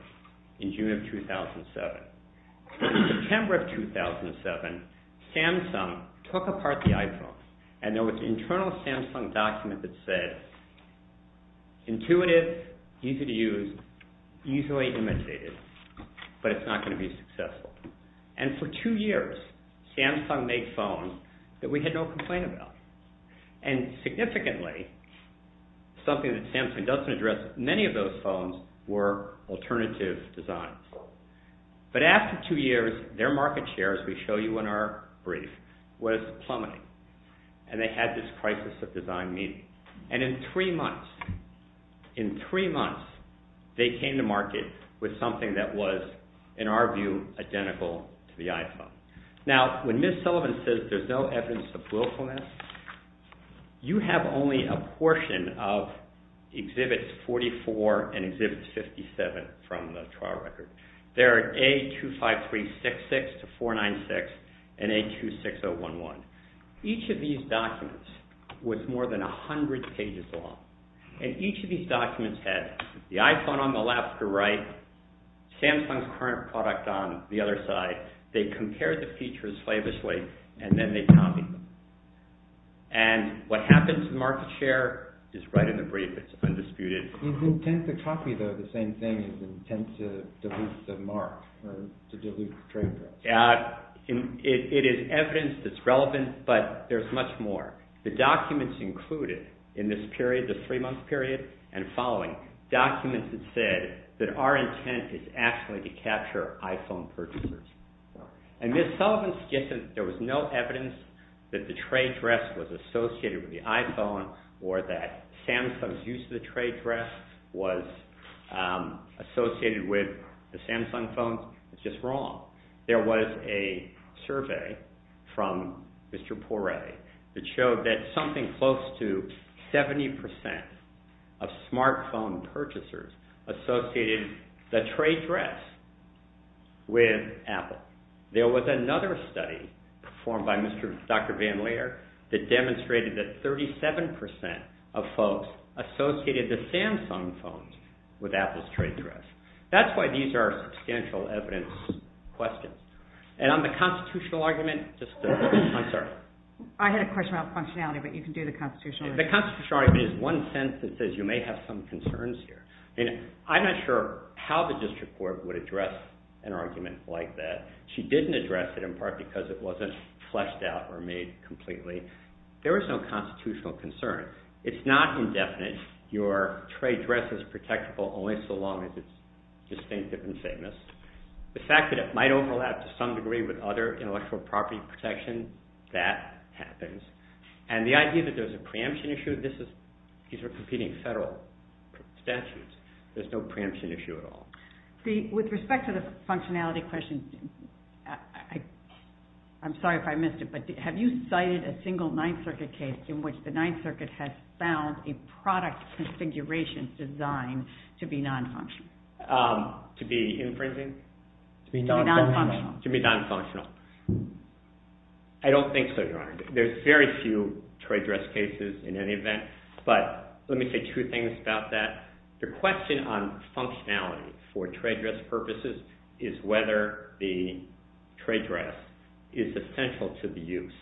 in June of 2007. In September of 2007, Samsung took apart the iPhone, and there was an internal Samsung document that said, intuitive, easy to use, easily imitated, but it's not going to be successful. And for two years, Samsung made phones that we had no complaint about. And significantly, something that Samsung doesn't address, many of those phones were alternative designs. But after two years, their market share, as we show you in our brief, was plummeting, and they had this crisis of design meeting. And in three months, in three months, they came to market with something that was, in our view, identical to the iPhone. Now, when Ms. Sullivan says there's no evidence of willfulness, you have only a portion of Exhibits 44 and Exhibits 57 from the trial record. There are A25366-496 and A26011. Each of these documents was more than 100 pages long. And each of these documents had the iPhone on the left or right, Samsung's current product on the other side. They compared the features famously, and then they copied them. And what happens to market share is right in the brief. It's undisputed. You tend to copy the same thing as you tend to delete the mark, to delete the trademark. It is evidence that's relevant, but there's much more. The documents included in this period, this three-month period, and following, documents that say that our intent is actually to capture iPhone purchasers. And Ms. Sullivan suggested there was no evidence that the trade dress was associated with the iPhone or that Samsung's use of the trade dress was associated with the Samsung phone. It's just wrong. There was a survey from Mr. Poirier that showed that something close to 70% of smartphone purchasers associated the trade dress with Apple. There was another study performed by Dr. Van Lier that demonstrated that 37% of folks associated the Samsung phones with Apple's trade dress. That's why these are substantial evidence questions. And on the constitutional argument, just a second. I'm sorry. I had a question about functionality, but you can do the constitutional argument. The constitutional argument is one sense that says you may have some concerns here. And I'm not sure how the district court would address an argument like that. She didn't address it in part because it wasn't fleshed out or made completely. There was no constitutional concern. It's not indefinite. Your trade dress is protectable only so long as it's distinctive and famous. The fact that it might overlap to some degree with other intellectual property protection, that happens. And the idea that there's a preemption issue, these are competing federal statutes. There's no preemption issue at all. With respect to the functionality question, I'm sorry if I missed it, but have you cited a single Ninth Circuit case in which the Ninth Circuit has found a product configuration designed to be non-functional? To be infringing? To be non-functional. I don't think so, Your Honor. There's very few trade dress cases in any event. But let me say two things about that. The question on functionality for trade dress purposes is whether the trade dress is essential to the use.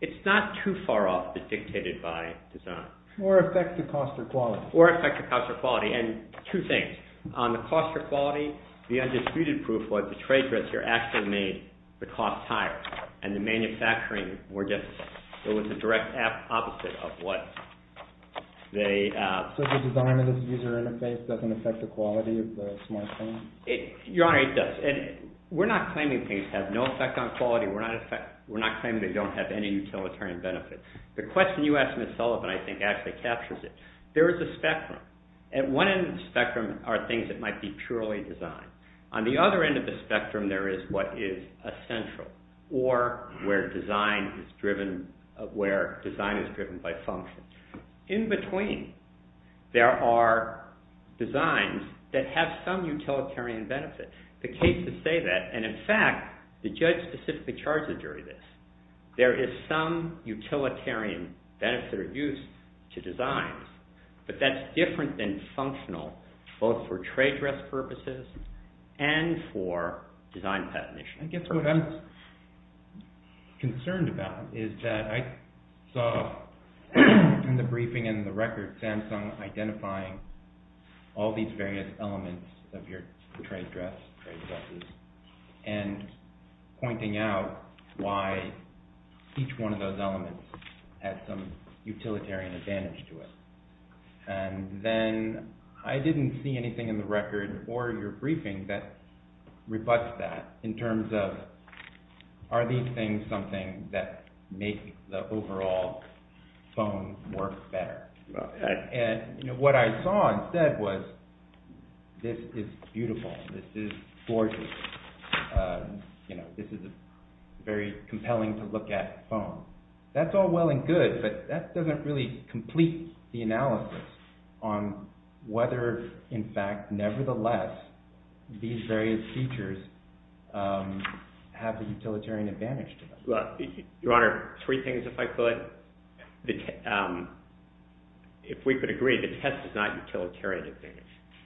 It's not too far off dictated by design. Or affect the cost or quality. Or affect the cost or quality. And two things. On the cost or quality, the undisputed proof was the trade dresser actually made the cost higher. And the manufacturing were different. It was the direct opposite of what they... So the design of this user interface doesn't affect the quality of the smart phone? Your Honor, it does. And we're not claiming things have no effect on quality. We're not claiming they don't have any utilitarian benefits. The question you asked, Ms. Sullivan, I think actually captures it. There is a spectrum. At one end of the spectrum are things that might be purely design. On the other end of the spectrum, there is what is essential. Or where design is driven by function. In between, there are designs that have some utilitarian benefits. The cases say that. And in fact, the judge specifically charges during this. There is some utilitarian benefit or use to design. But that's different than functional. Both for trade dress purposes and for design patent issues. I guess what I'm concerned about is that I saw in the briefing and in the record, Samsung identifying all these various elements of your trade dress and pointing out why each one of those elements have some utilitarian advantage to it. And then I didn't see anything in the record or your briefing that rebuts that in terms of are these things something that make the overall phone work better. And what I saw instead was this is beautiful. This is gorgeous. This is very compelling to look at phone. That's all well and good, but that doesn't really complete the analysis on whether, in fact, nevertheless, these various features have the utilitarian advantage to them. Your Honor, three things if I could. If we could agree, the test is not utilitarian.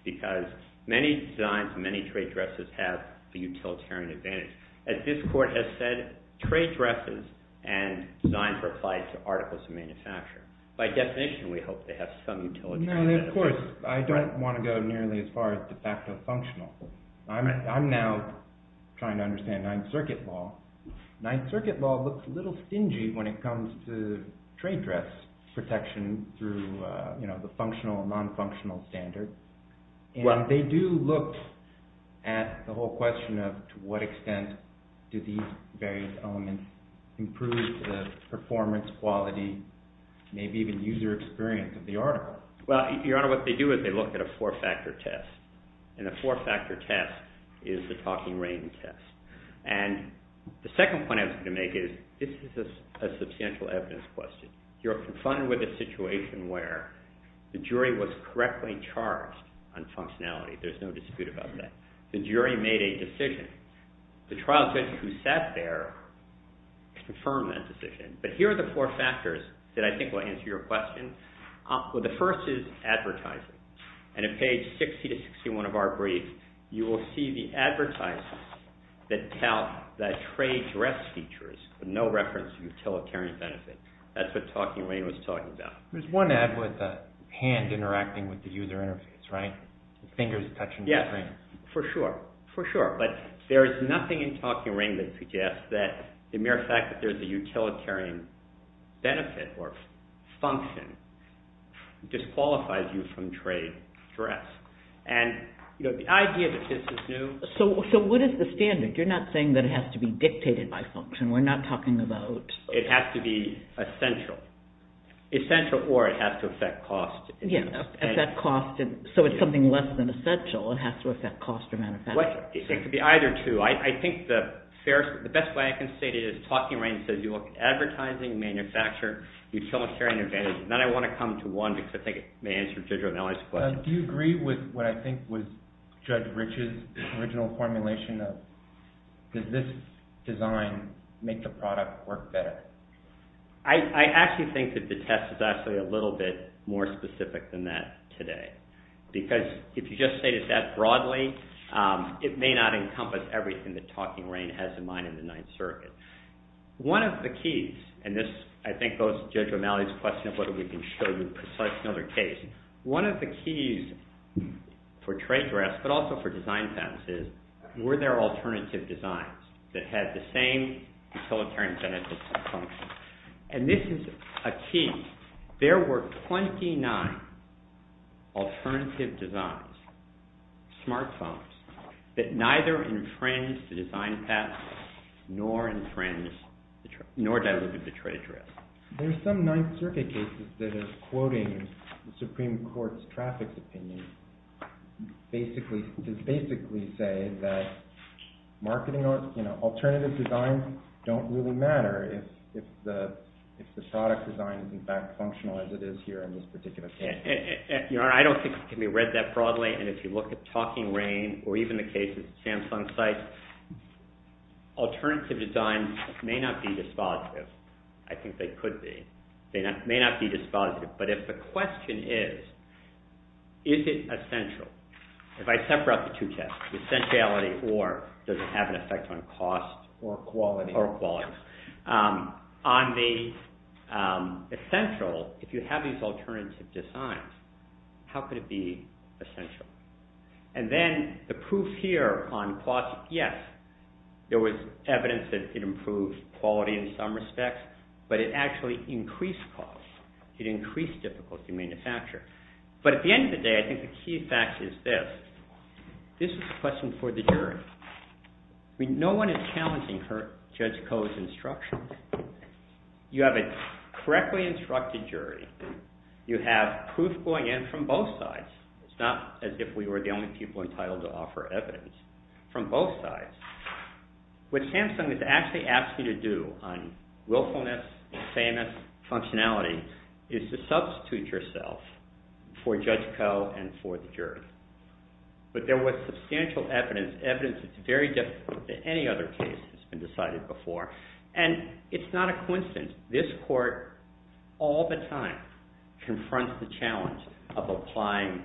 Because many designs, many trade dresses have the utilitarian advantage. As this Court has said, trade dresses and designs are applied to articles of manufacture. By definition, we hope they have some utilitarian advantage. Of course, I don't want to go nearly as far as the fact that it's functional. I'm now trying to understand Ninth Circuit law. Ninth Circuit law looks a little stingy when it comes to trade dress protection through the functional and non-functional standard. They do look at the whole question of to what extent do these various elements improve the performance, quality, maybe even user experience of the article. Your Honor, what they do is they look at a four-factor test. And a four-factor test is the talking ring test. And the second point I was going to make is this is a substantial evidence question. You're confronted with a situation where the jury was correctly charged on functionality. There's no dispute about that. The jury made a decision. The trial judge who sat there confirmed that decision. But here are the four factors that I think will answer your question. Well, the first is advertising. And at page 60 to 61 of our brief, you will see the advertising that tell that trade dress features with no reference to utilitarian benefit. That's what talking ring was talking about. There's one ad with a hand interacting with the user interface, right? Fingers touching the screen. Yes. For sure. For sure. But there's nothing in talking ring that suggests that the mere fact that there's a utilitarian benefit or function disqualifies you from trade dress. And the idea that this is new... So what is the standard? You're not saying that it has to be dictated by function. We're not talking about... It has to be essential. Essential or it has to affect cost. Yes. At that cost. So it's something less than essential. It has to affect cost of manufacturing. It could be either two. I think the best way I can say it is talking ring says you look at advertising, manufacturer, utilitarian advantages. And then I want to come to one because I think it may answer the judge's question. Do you agree with what I think was Judge Rich's original formulation of does this design make the product work better? I actually think that the test is actually a little bit more specific than that today. Because if you just say it that broadly, it may not encompass everything that talking ring has in mind in the Ninth Circuit. One of the keys, and this, I think, goes to Judge O'Malley's question of whether we can show you such another case. One of the keys for trade dress, but also for design practices, were their alternative designs that had the same utilitarian benefits. And this is a key. There were 29 alternative designs, smart phones, that neither infringed the design patents nor infringed, nor diluted the trade dress. There's some Ninth Circuit cases that is quoting the Supreme Court's traffic opinion. It basically says that alternative designs don't really matter if the product design is as functional as it is here in this particular case. I don't think it can be read that broadly. And if you look at talking ring, or even the case of the Samsung site, alternative designs may not be dispositive. I think they could be. They may not be dispositive. But if the question is, is it essential? If I separate the two tests, the essentiality or does it have an effect on cost or quality, on the essential, if you have these alternative designs, how could it be essential? And then the proof here on cost, yes, there was evidence that it improves quality in some respects, but it actually increased cost. It increased difficulty in manufacture. But at the end of the day, I think the key fact is this. This is a question for the jury. No one is challenging Judge Koh's instructions. You have a correctly instructed jury. You have proof going in from both sides. It's not as if we were the only people entitled to offer evidence. From both sides. What Samsung has actually asked you to do on willfulness and fairness functionality is to substitute yourself for Judge Koh and for the jury. But there was substantial evidence, evidence that's very different than any other case that's been decided before. And it's not a coincidence. This court all the time confronts the challenge of applying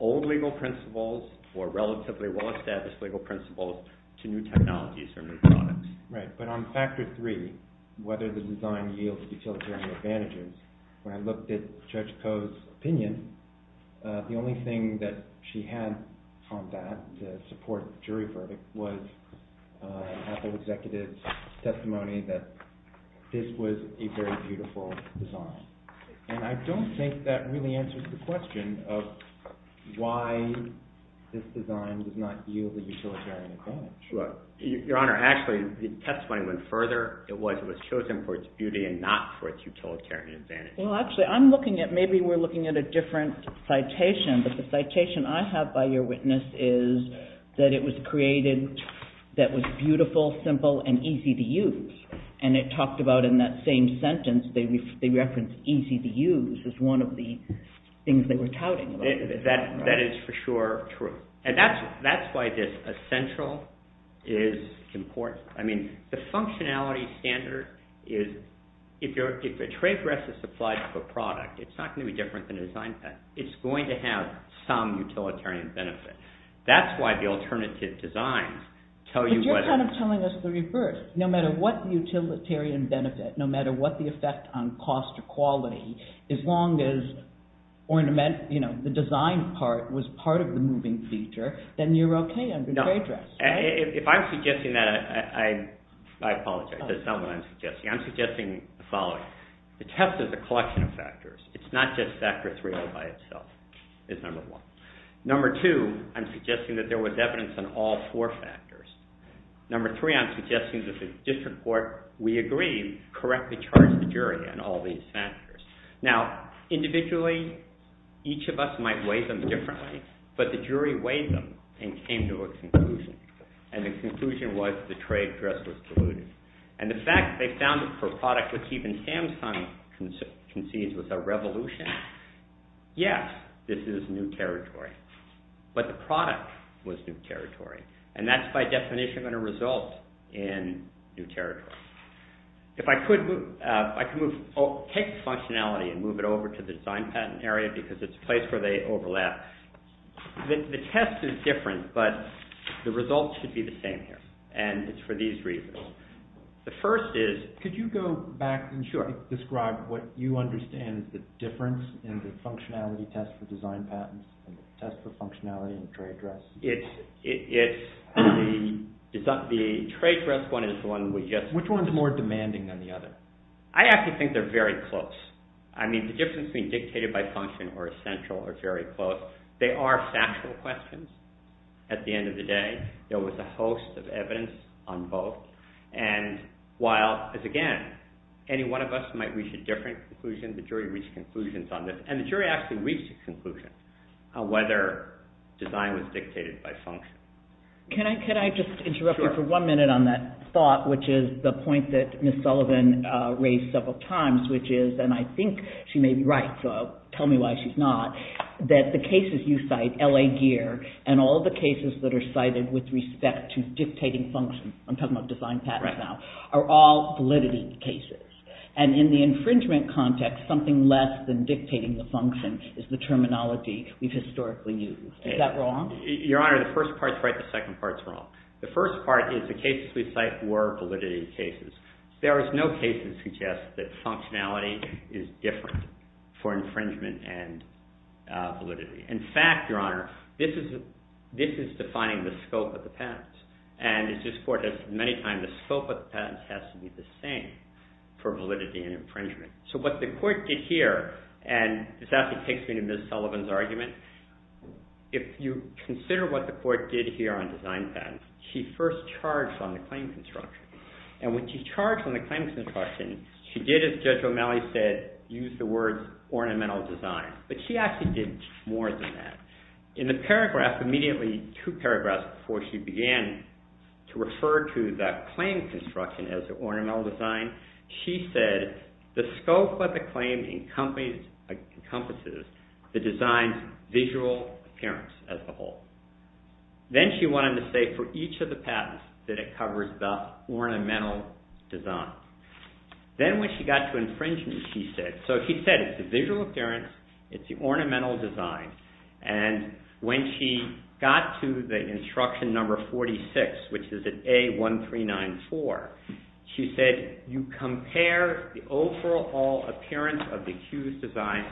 old legal principles or relatively well-established legal principles to new technologies or new products. Right. But on factor three, whether the design yields utilitarian advantages, when I looked at Judge Koh's opinion, the only thing that she had from that support jury verdict was an executive testimony that this was a very beautiful design. And I don't think that really answers the question of why this design does not yield utilitarian advantages. Your Honor, actually, the testimony went further. It was chosen for its beauty and not for its utilitarian advantages. Well, actually, I'm looking at, maybe we're looking at a different citation. But the citation I have by your witness is that it was created that was beautiful, simple, and easy to use. And it talked about, in that same sentence, they referenced easy to use as one of the things they were touting. That is for sure true. And that's why this essential is important. I mean, the functionality standard is, if the trade rest is supplied to a product, it's not going to be different than a design test. It's going to have some utilitarian benefits. That's why the alternative designs tell you what... You're kind of telling us the reverse. No matter what utilitarian benefit, no matter what the effect on cost or quality, as long as the design part was part of the moving feature, then you're okay on the trade rest. If I'm suggesting that, I apologize. That's not what I'm suggesting. I'm suggesting the following. The test is a collection of factors. It's not just factor three all by itself. It's number one. Number two, I'm suggesting that there was evidence in all four factors. Number three, I'm suggesting that the district court, we agree, correctly charged the jury on all these factors. Now, individually, each of us might weigh them differently, but the jury weighed them and came to a conclusion. And the conclusion was the trade rest was diluted. And the fact they found that for a product which even Hampton conceived was a revolution, yes, this is new territory. But the product was new territory. And that's by definition going to result in new territory. If I could move... I can take the functionality and move it over to the design patent area because it's a place where they overlap. The test is different, but the results should be the same here. And it's for these reasons. The first is... Could you go back and describe what you understand the difference in the functionality test for design patent and the test for functionality in the trade rest? It's... The trade rest one is the one we just... Which one is more demanding than the other? I actually think they're very close. I mean, the difference between dictated by function or essential are very close. They are factual questions. At the end of the day, there was a host of evidence on both. And while, again, any one of us might reach a different conclusion, the jury reached conclusions on this. And the jury actually reached a conclusion on whether design was dictated by function. Can I just interrupt you for one minute on that thought, which is the point that Ms. Sullivan raised several times, which is... And I think she may be right, so tell me why she's not. That the cases you cite, LA GEAR, and all the cases that are cited with respect to dictating function, I'm talking about design patents now, are all validity cases. And in the infringement context, something less than dictating the function is the terminology we've historically used. Is that wrong? Your Honor, the first part's right. The second part's wrong. The first part is the cases we cite were validity cases. There is no case that suggests that functionality is different for infringement and validity. In fact, Your Honor, this is defining the scope of the patents. And this court has, many times, the scope of the patents has to be the same for validity and infringement. So what the court did here, and is that the case in Ms. Sullivan's argument? If you consider what the court did here on design patents, she first charged on the claim construction. And when she charged on the claim construction, she did, as Judge O'Malley said, use the words ornamental design. But she actually did more than that. In the paragraph, immediately two paragraphs before she began to refer to that claim construction as ornamental design, she said, the scope of the claim encompasses the design's visual appearance as a whole. Then she wanted to say, for each of the patents, that it covers the ornamental design. Then when she got to infringement, she said, so she said, it's the visual appearance, it's the ornamental design. And when she got to the instruction number 46, which is at A1394, she said, you compare the overall appearance of the accused's design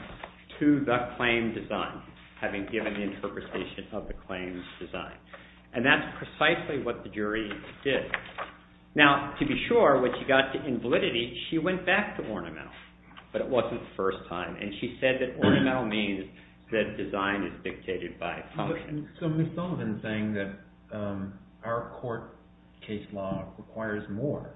to the claim design, having given the appropriation of the claim's design. And that's precisely what the jury did. Now, to be sure, when she got to invalidity, she went back to ornamental. But it wasn't the first time. And she said that ornamental means that design is dictated by function. So Ms. Sullivan is saying that our court case law requires more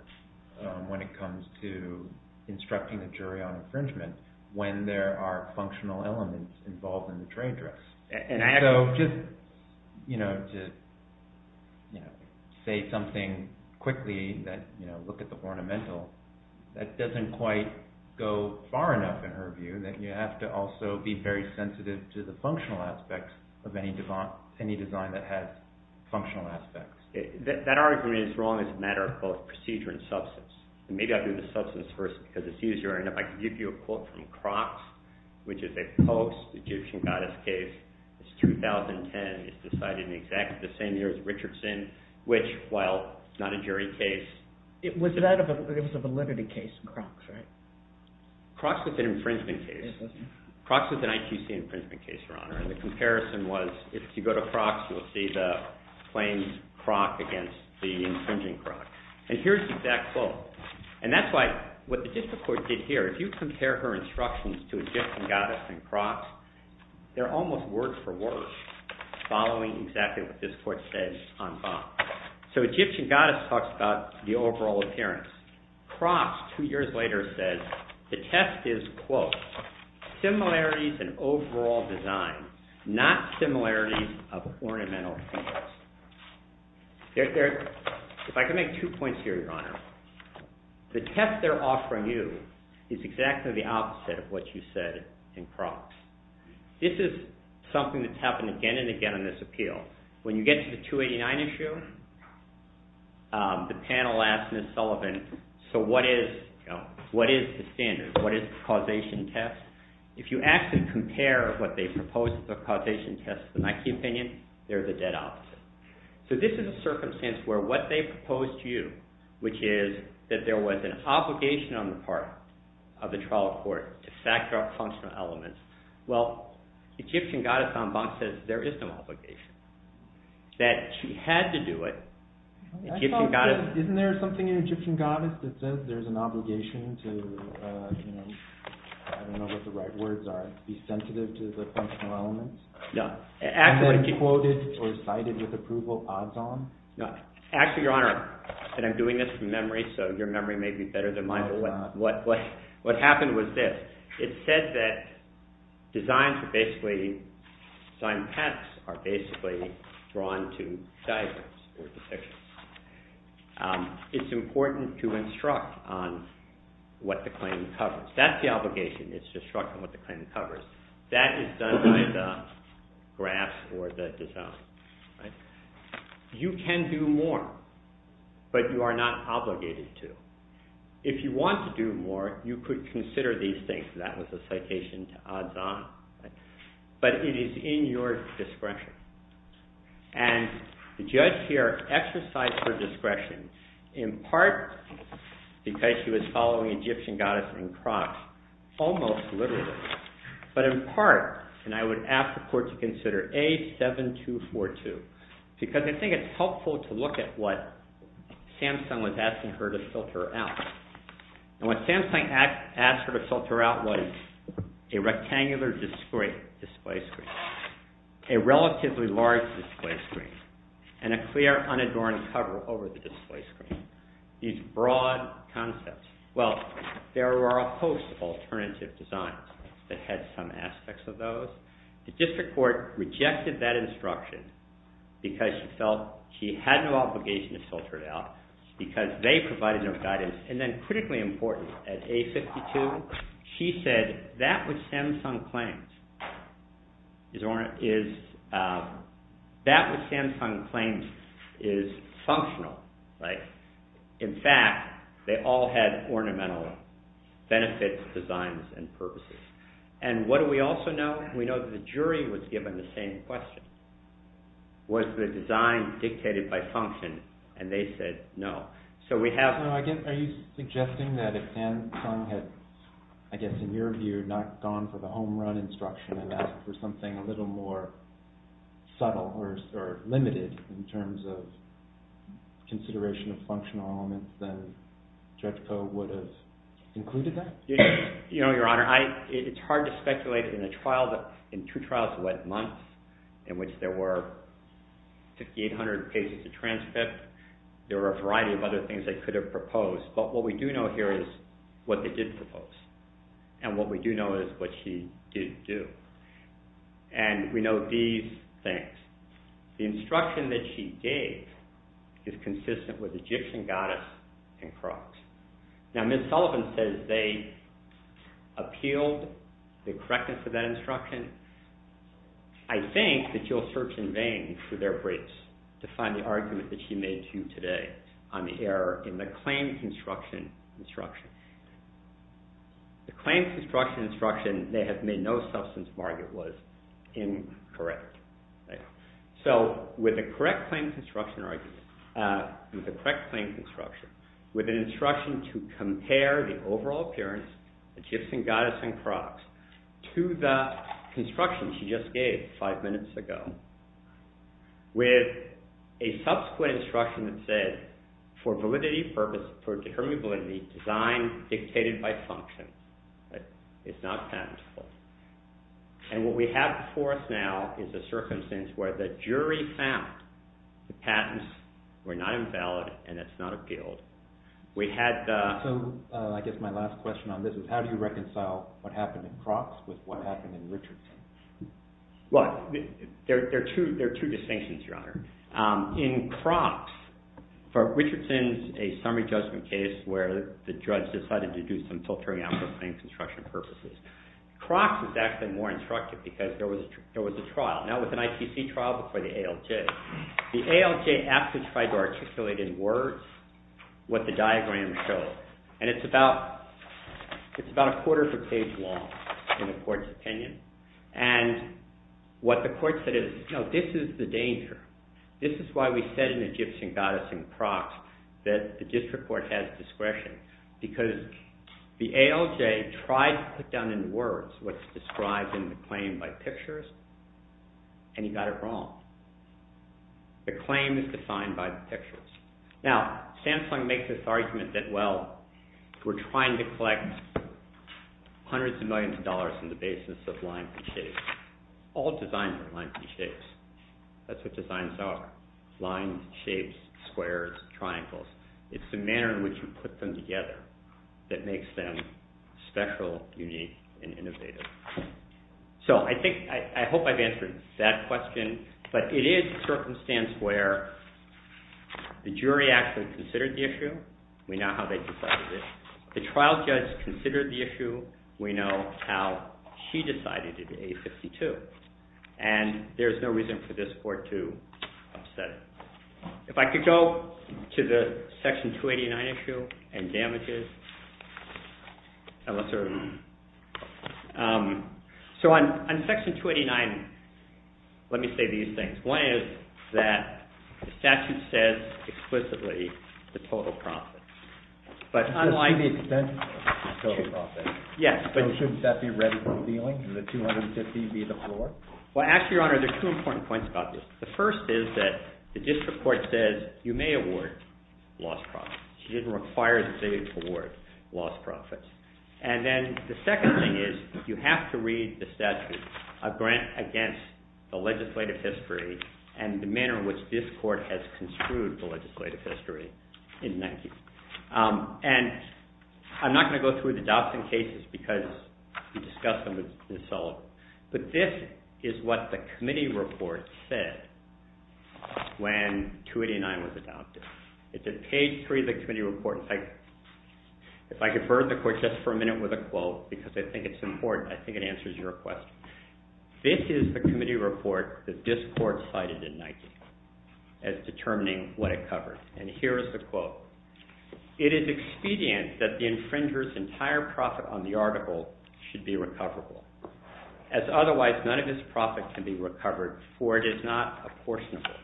when it comes to instructing the jury on infringement when there are functional elements involved in the trade dress. So just to say something quickly, look at the ornamental, that doesn't quite go far enough, in her view, that you have to also be very sensitive to the functional aspects of any design that has functional aspects. That argument is wrong. It's a matter of procedure and substance. And maybe I'll do the substance first, because it's easier. And if I could give you a quote from Crocs, which is a post-Egyptian goddess case. It's 2010. It's decided in exactly the same year as Richardson, which, while not a jury case. It was a validity case in Crocs, right? Crocs was an infringement case. Crocs was an ITC infringement case, Your Honor. And the comparison was, if you go to Crocs, you'll see the plain Croc against the infringing Croc. And here's the exact quote. And that's what the Egyptian court did here. If you compare her instructions to Egyptian goddess in Crocs, they're almost word for word, following exactly what this court says on file. So Egyptian goddess talks about the overall appearance. Crocs, two years later, says, the test is, quote, similarities in overall design, not similarities of ornamental interest. If I could make two points here, Your Honor. The test they're offering you is exactly the opposite of what you said in Crocs. This is something that's happened again and again in this appeal. When you get to the 289 issue, the panel asked Ms. Sullivan, so what is the standard? What is the causation test? If you ask them to compare what they suppose is the causation test to the Nike opinion, they're the dead opposite. So this is a circumstance where what they propose to you, which is that there was an obligation on the part of the trial court to factor out functional elements. Well, Egyptian goddess on box says there is no obligation. That she had to do it. Isn't there something in Egyptian goddess that says there's an obligation to, I don't know what the right words are, be sensitive to the functional elements? No. No. Actually, Your Honor, and I'm doing this from memory, so your memory may be better than mine, but what happened was this. It said that designs are basically, design patents are basically drawn to diagrams. It's important to instruct on what the claim covers. That's the obligation, is to instruct on what the claim covers. That is done by the graphs or the design. You can do more, but you are not obligated to. If you want to do more, you could consider these things. That was a citation to Adan. But it is in your discretion. And the judge here exercised her discretion in part because she was following Egyptian goddess in Crocs almost literally. But in part, and I would ask the court to consider A7242, because I think it's helpful to look at what Samsung was asking her to filter out. And what Samsung asked her to filter out was a rectangular display screen, a relatively large display screen, and a clear unadorned cover over the display screen. These broad concepts. Well, there were a host of alternative designs that had some aspects of those. The district court rejected that instruction because she felt she had no obligation to filter it out because they provided enough guidance. And then critically important, at A52, she said that was Samsung claims. That was Samsung claims is functional, right? In fact, they all had ornamental benefits, designs, and purposes. And what do we also know? We know the jury was given the same question. Was the design dictated by function? And they said no. So we have... Are you suggesting that if Samsung had, I guess in your view, not gone for the home run instruction and asked for something a little more subtle or limited in terms of consideration of functional elements, that JETCO would have included that? You know, Your Honor, it's hard to speculate in a trial that... In two trials in that month, in which there were 5,800 pages to transcript, there were a variety of other things they could have proposed. But what we do know here is what they did propose. And what we do know is what she didn't do. And we know these things. The instruction that she gave is consistent with Egyptian goddess and cross. Now, Ms. Sullivan says they appealed the correctness of that instruction. I think that you'll search in vain through their briefs to find the argument that she made to you today on the error in the claim construction instruction. The claim construction instruction, they have made no substance mark it was incorrect. So, with the correct claim construction argument, with the correct claim construction, with an instruction to compare the overall appearance of Egyptian goddess and cross to the construction she just gave five minutes ago, with a subsequent instruction that said, for validity purposes, for determining validity, design dictated by function. It's not tenable. And what we have before us now is a circumstance where the jury found the patents were not invalid and it's not appealed. We had the... So, I guess my last question on this is how do you reconcile what happened in Cropps with what happened in Richardson? Well, there are two distinctions, Your Honor. In Cropps, for Richardson, a summary judgment case where the judge decided to do some filtering out the claim construction purposes. Cropps was actually more instructive because there was a trial. Now, it was an IPC trial before the ALJ. The ALJ asked us to try to articulate in words what the diagram showed. And it's about a quarter of a page long in the court's opinion. And what the court said is, no, this is the danger. This is why we said in Egyptian goddess and Cropps that the district court has discretion. Because the ALJ tried to put down in words what's described in the claim by pictures and he got it wrong. The claim is defined by the pictures. Now, Samsung makes this argument that, well, we're trying to collect hundreds of millions of dollars in the basis of lines and shapes. All designs are lines and shapes. That's what designs are. Lines, shapes, squares, triangles. It's the manner in which you put them together that makes them special, unique, and innovative. So I think, I hope I've answered that question. But it is a circumstance where the jury actually considered the issue. We know how they decided it. The trial judge considered the issue. We know how she decided it, A52. And there's no reason for this court to upset it. If I could go to the section 289 issue and damages. So on section 289, let me say these things. One is that the statute says explicitly the total profit. But unlike... It should be said the total profit. Yes. Shouldn't that be read from the ceiling? Should the 250 be the floor? Well, actually, your honor, there's two important points about this. The first is that the district court says you may award lost profits. It doesn't require the judge to award lost profits. And then the second thing is you have to read the statute, a grant against the legislative history and the manner in which this court has construed the legislative history in 19... And I'm not going to go through the adoption cases because the discussion was insolvent. But this is what the committee report said when 289 was adopted. It's at page 3 of the committee report. If I could burn the court just for a minute with a quote because I think it's important. I think it answers your question. This is the committee report that this court cited in 19 as determining what it covered. And here is the quote. It is expedient that the infringer's entire profit on the article should be recoverable. As otherwise, none of his profit can be recovered for it is not a portion of it.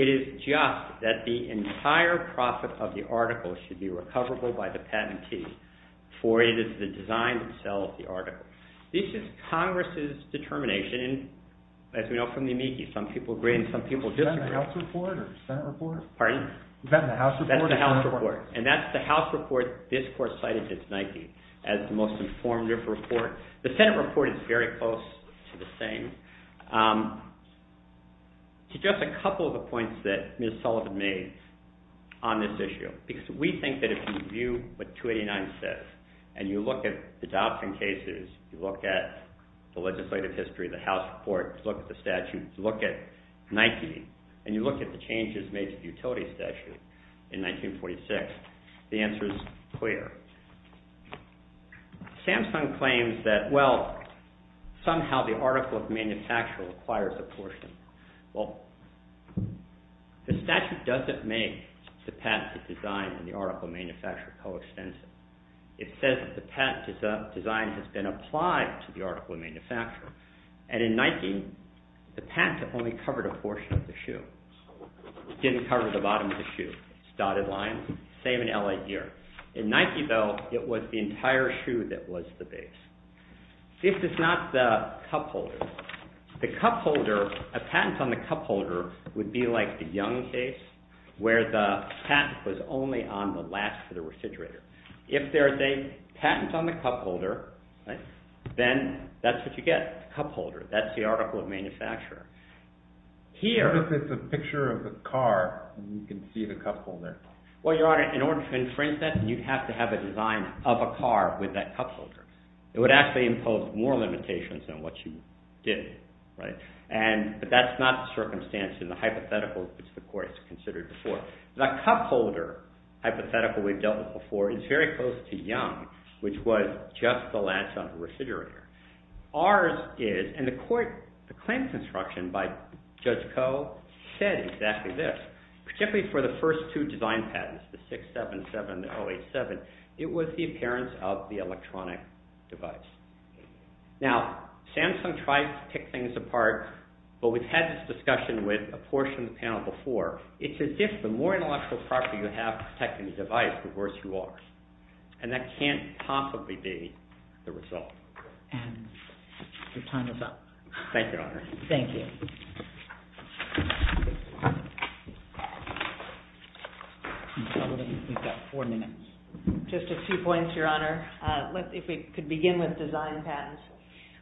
It is just that the entire profit of the article should be recoverable by the patentee for it is the design to sell the article. This is Congress' determination. As we know from the amici, some people agree and some people disagree. Is that in the House report or the Senate report? Pardon? Is that in the House report? That's the House report. And that's the House report this court cited in 19 as the most informative report. The Senate report is very close to the same. Just a couple of the points that Ms. Sullivan made on this issue. We think that if you review what 289 says and you look at the adoption cases, you look at the legislative history, the House report, look at the statute, and you look at Nike and you look at the changes made to the utility statute in 1946, the answer is clear. Samsung claims that, well, somehow the article of manufacture requires a portion. Well, the statute doesn't make the patent to design and the article of manufacture coextensive. It says that the patent design has been applied to the article of manufacture. And in Nike, the patent only covered a portion of the shoe. It didn't cover the bottom of the shoe. It's dotted line. Same in L.A. here. In Nike, though, it was the entire shoe that was the base. This is not the cup holder. The cup holder, a patent on the cup holder would be like the Young case where the patent was only on the last of the refrigerator. If there is a patent on the cup holder, then that's what you get, a cup holder. That's the article of manufacture. Here— What if it's a picture of a car and you can see the cup holder? Well, Your Honor, in order to infringe that, you have to have a design of a car with that cup holder. It would actually impose more limitations than what you did. But that's not the circumstance in the hypothetical which the court has considered before. The cup holder hypothetical we've dealt with before is very close to Young, which was just the last of the refrigerator. Ours is—and the court, the claim construction by Judge Koh said exactly this. Particularly for the first two design patents, the 677 and the 087, it was the appearance of the electronic device. Now, Samsung tried to pick things apart, but we've had this discussion with a portion of the panel before. It's as if the more intellectual property you have protecting the device, the worse you are. And that can't possibly be the result. And your time is up. Thank you, Your Honor. Thank you. We've got four minutes. Just a few points, Your Honor. If we could begin with design patents.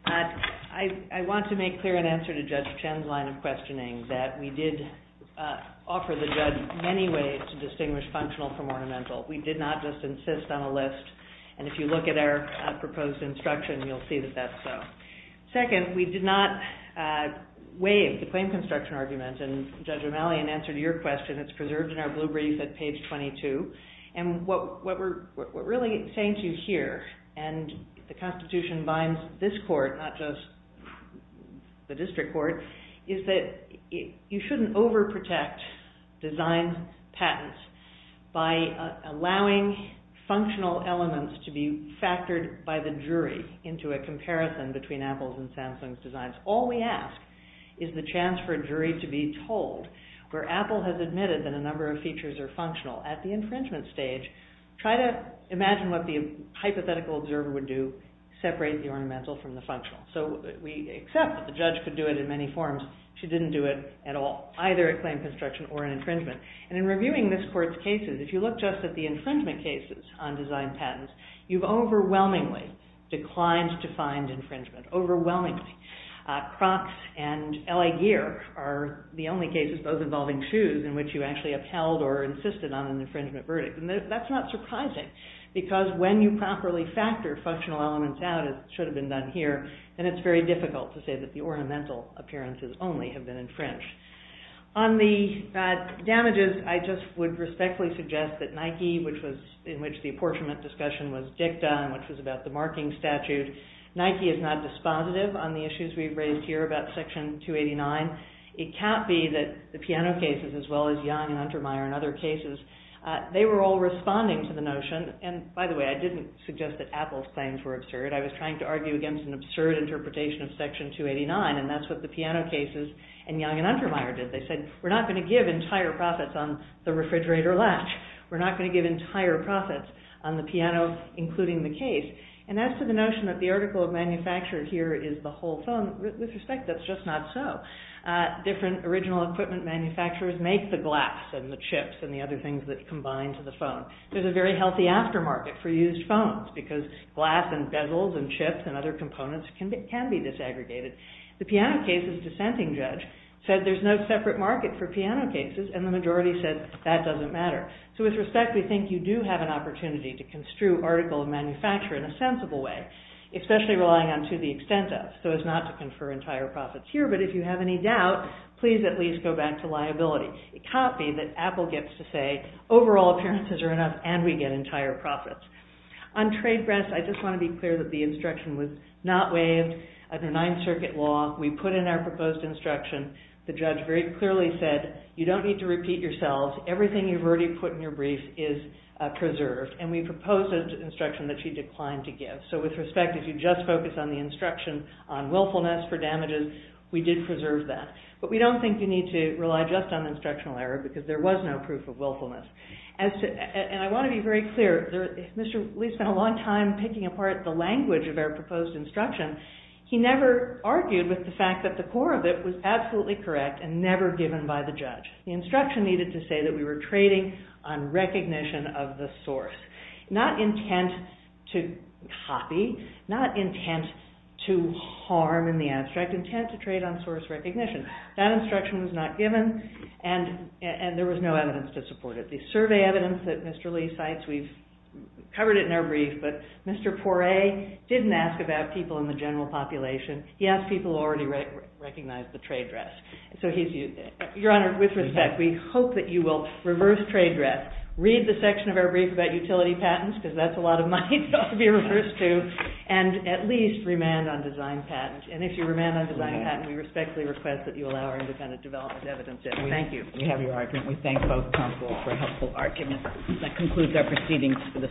I want to make clear an answer to Judge Chen's line of questioning, that we did offer the judge many ways to distinguish functional from ornamental. We did not just insist on a list. And if you look at our proposed instruction, you'll see that that's so. Second, we did not waive the claim construction argument. And Judge O'Malley, in answer to your question, it's preserved in our blue brief at page 22. And what we're really saying to you here, and the Constitution binds this court, not just the district court, is that you shouldn't overprotect design patents by allowing functional elements to be factored by the jury into a comparison between Apple's and Samsung's designs. All we ask is the chance for a jury to be told, where Apple has admitted that a number of features are functional, at the infringement stage, try to imagine what the hypothetical observer would do, separate the ornamental from the functional. So we accept that the judge could do it in many forms. She didn't do it at all, either a claim construction or an infringement. And in reviewing this court's cases, if you look just at the infringement cases on design patents, you've overwhelmingly declined to find infringement. Overwhelmingly. Crocs and LA gear are the only cases, both involving shoes, in which you actually upheld or insisted on an infringement verdict. And that's not surprising, because when you properly factor functional elements out, as should have been done here, then it's very difficult to say that the ornamental appearances only have been infringed. On the damages, I just would respectfully suggest that Nike, in which the apportionment discussion was dicta, which was about the marking statute, Nike is not dispositive on the issues we've raised here about Section 289. It can't be that the piano cases, as well as Young and Untermeyer and other cases, they were all responding to the notion. And by the way, I didn't suggest that Apple's things were absurd. I was trying to argue against an absurd interpretation of Section 289, and that's what the piano cases and Young and Untermeyer did. They said, we're not going to give entire profits on the refrigerator latch. We're not going to give entire profits on the piano, including the case. And as to the notion that the article of manufacture here is the whole phone, with respect, that's just not so. Different original equipment manufacturers make the glass and the chips and the other things that combine to the phone. There's a very healthy aftermarket for used phones, because glass and bezels and chips and other components can be disaggregated. The piano cases dissenting judge said, there's no separate market for piano cases, and the majority said, that doesn't matter. So with respect, we think you do have an opportunity to construe article of manufacture in a sensible way, especially relying on to the extent of, so as not to confer entire profits here. But if you have any doubt, please at least go back to liability. A copy that Apple gets to say, overall appearances are enough, and we get entire profits. On trade grants, I just want to be clear that the instruction was not waived under Ninth Circuit law. We put in our proposed instruction. The judge very clearly said, you don't need to repeat yourselves. Everything you've already put in your brief is preserved. And we proposed an instruction that she declined to give. So with respect, if you just focus on the instruction on willfulness for damages, we did preserve that. But we don't think you need to rely just on instructional error, because there was no proof of willfulness. And I want to be very clear. Mr. Lee spent a long time picking apart the language of our proposed instruction. He never argued with the fact that the core of it was absolutely correct and never given by the judge. The instruction needed to say that we were trading on recognition of the source. Not intent to copy, not intent to harm in the abstract, intent to trade on source recognition. That instruction was not given, and there was no evidence to support it. The survey evidence that Mr. Lee cites, we've covered it in our brief, but Mr. Poirier didn't ask about people in the general population. He asked people who already recognized the trade dress. So, Your Honor, with respect, we hope that you will reverse trade dress, read the section of our brief about utility patents, because that's a lot of money for it to be reversed to, and at least remand on design patents. And if you remand on design patents, we respectfully request that you allow our defendant to develop his evidence. Thank you. We have your argument. We thank both counsel for a helpful argument. That concludes our proceedings for this morning.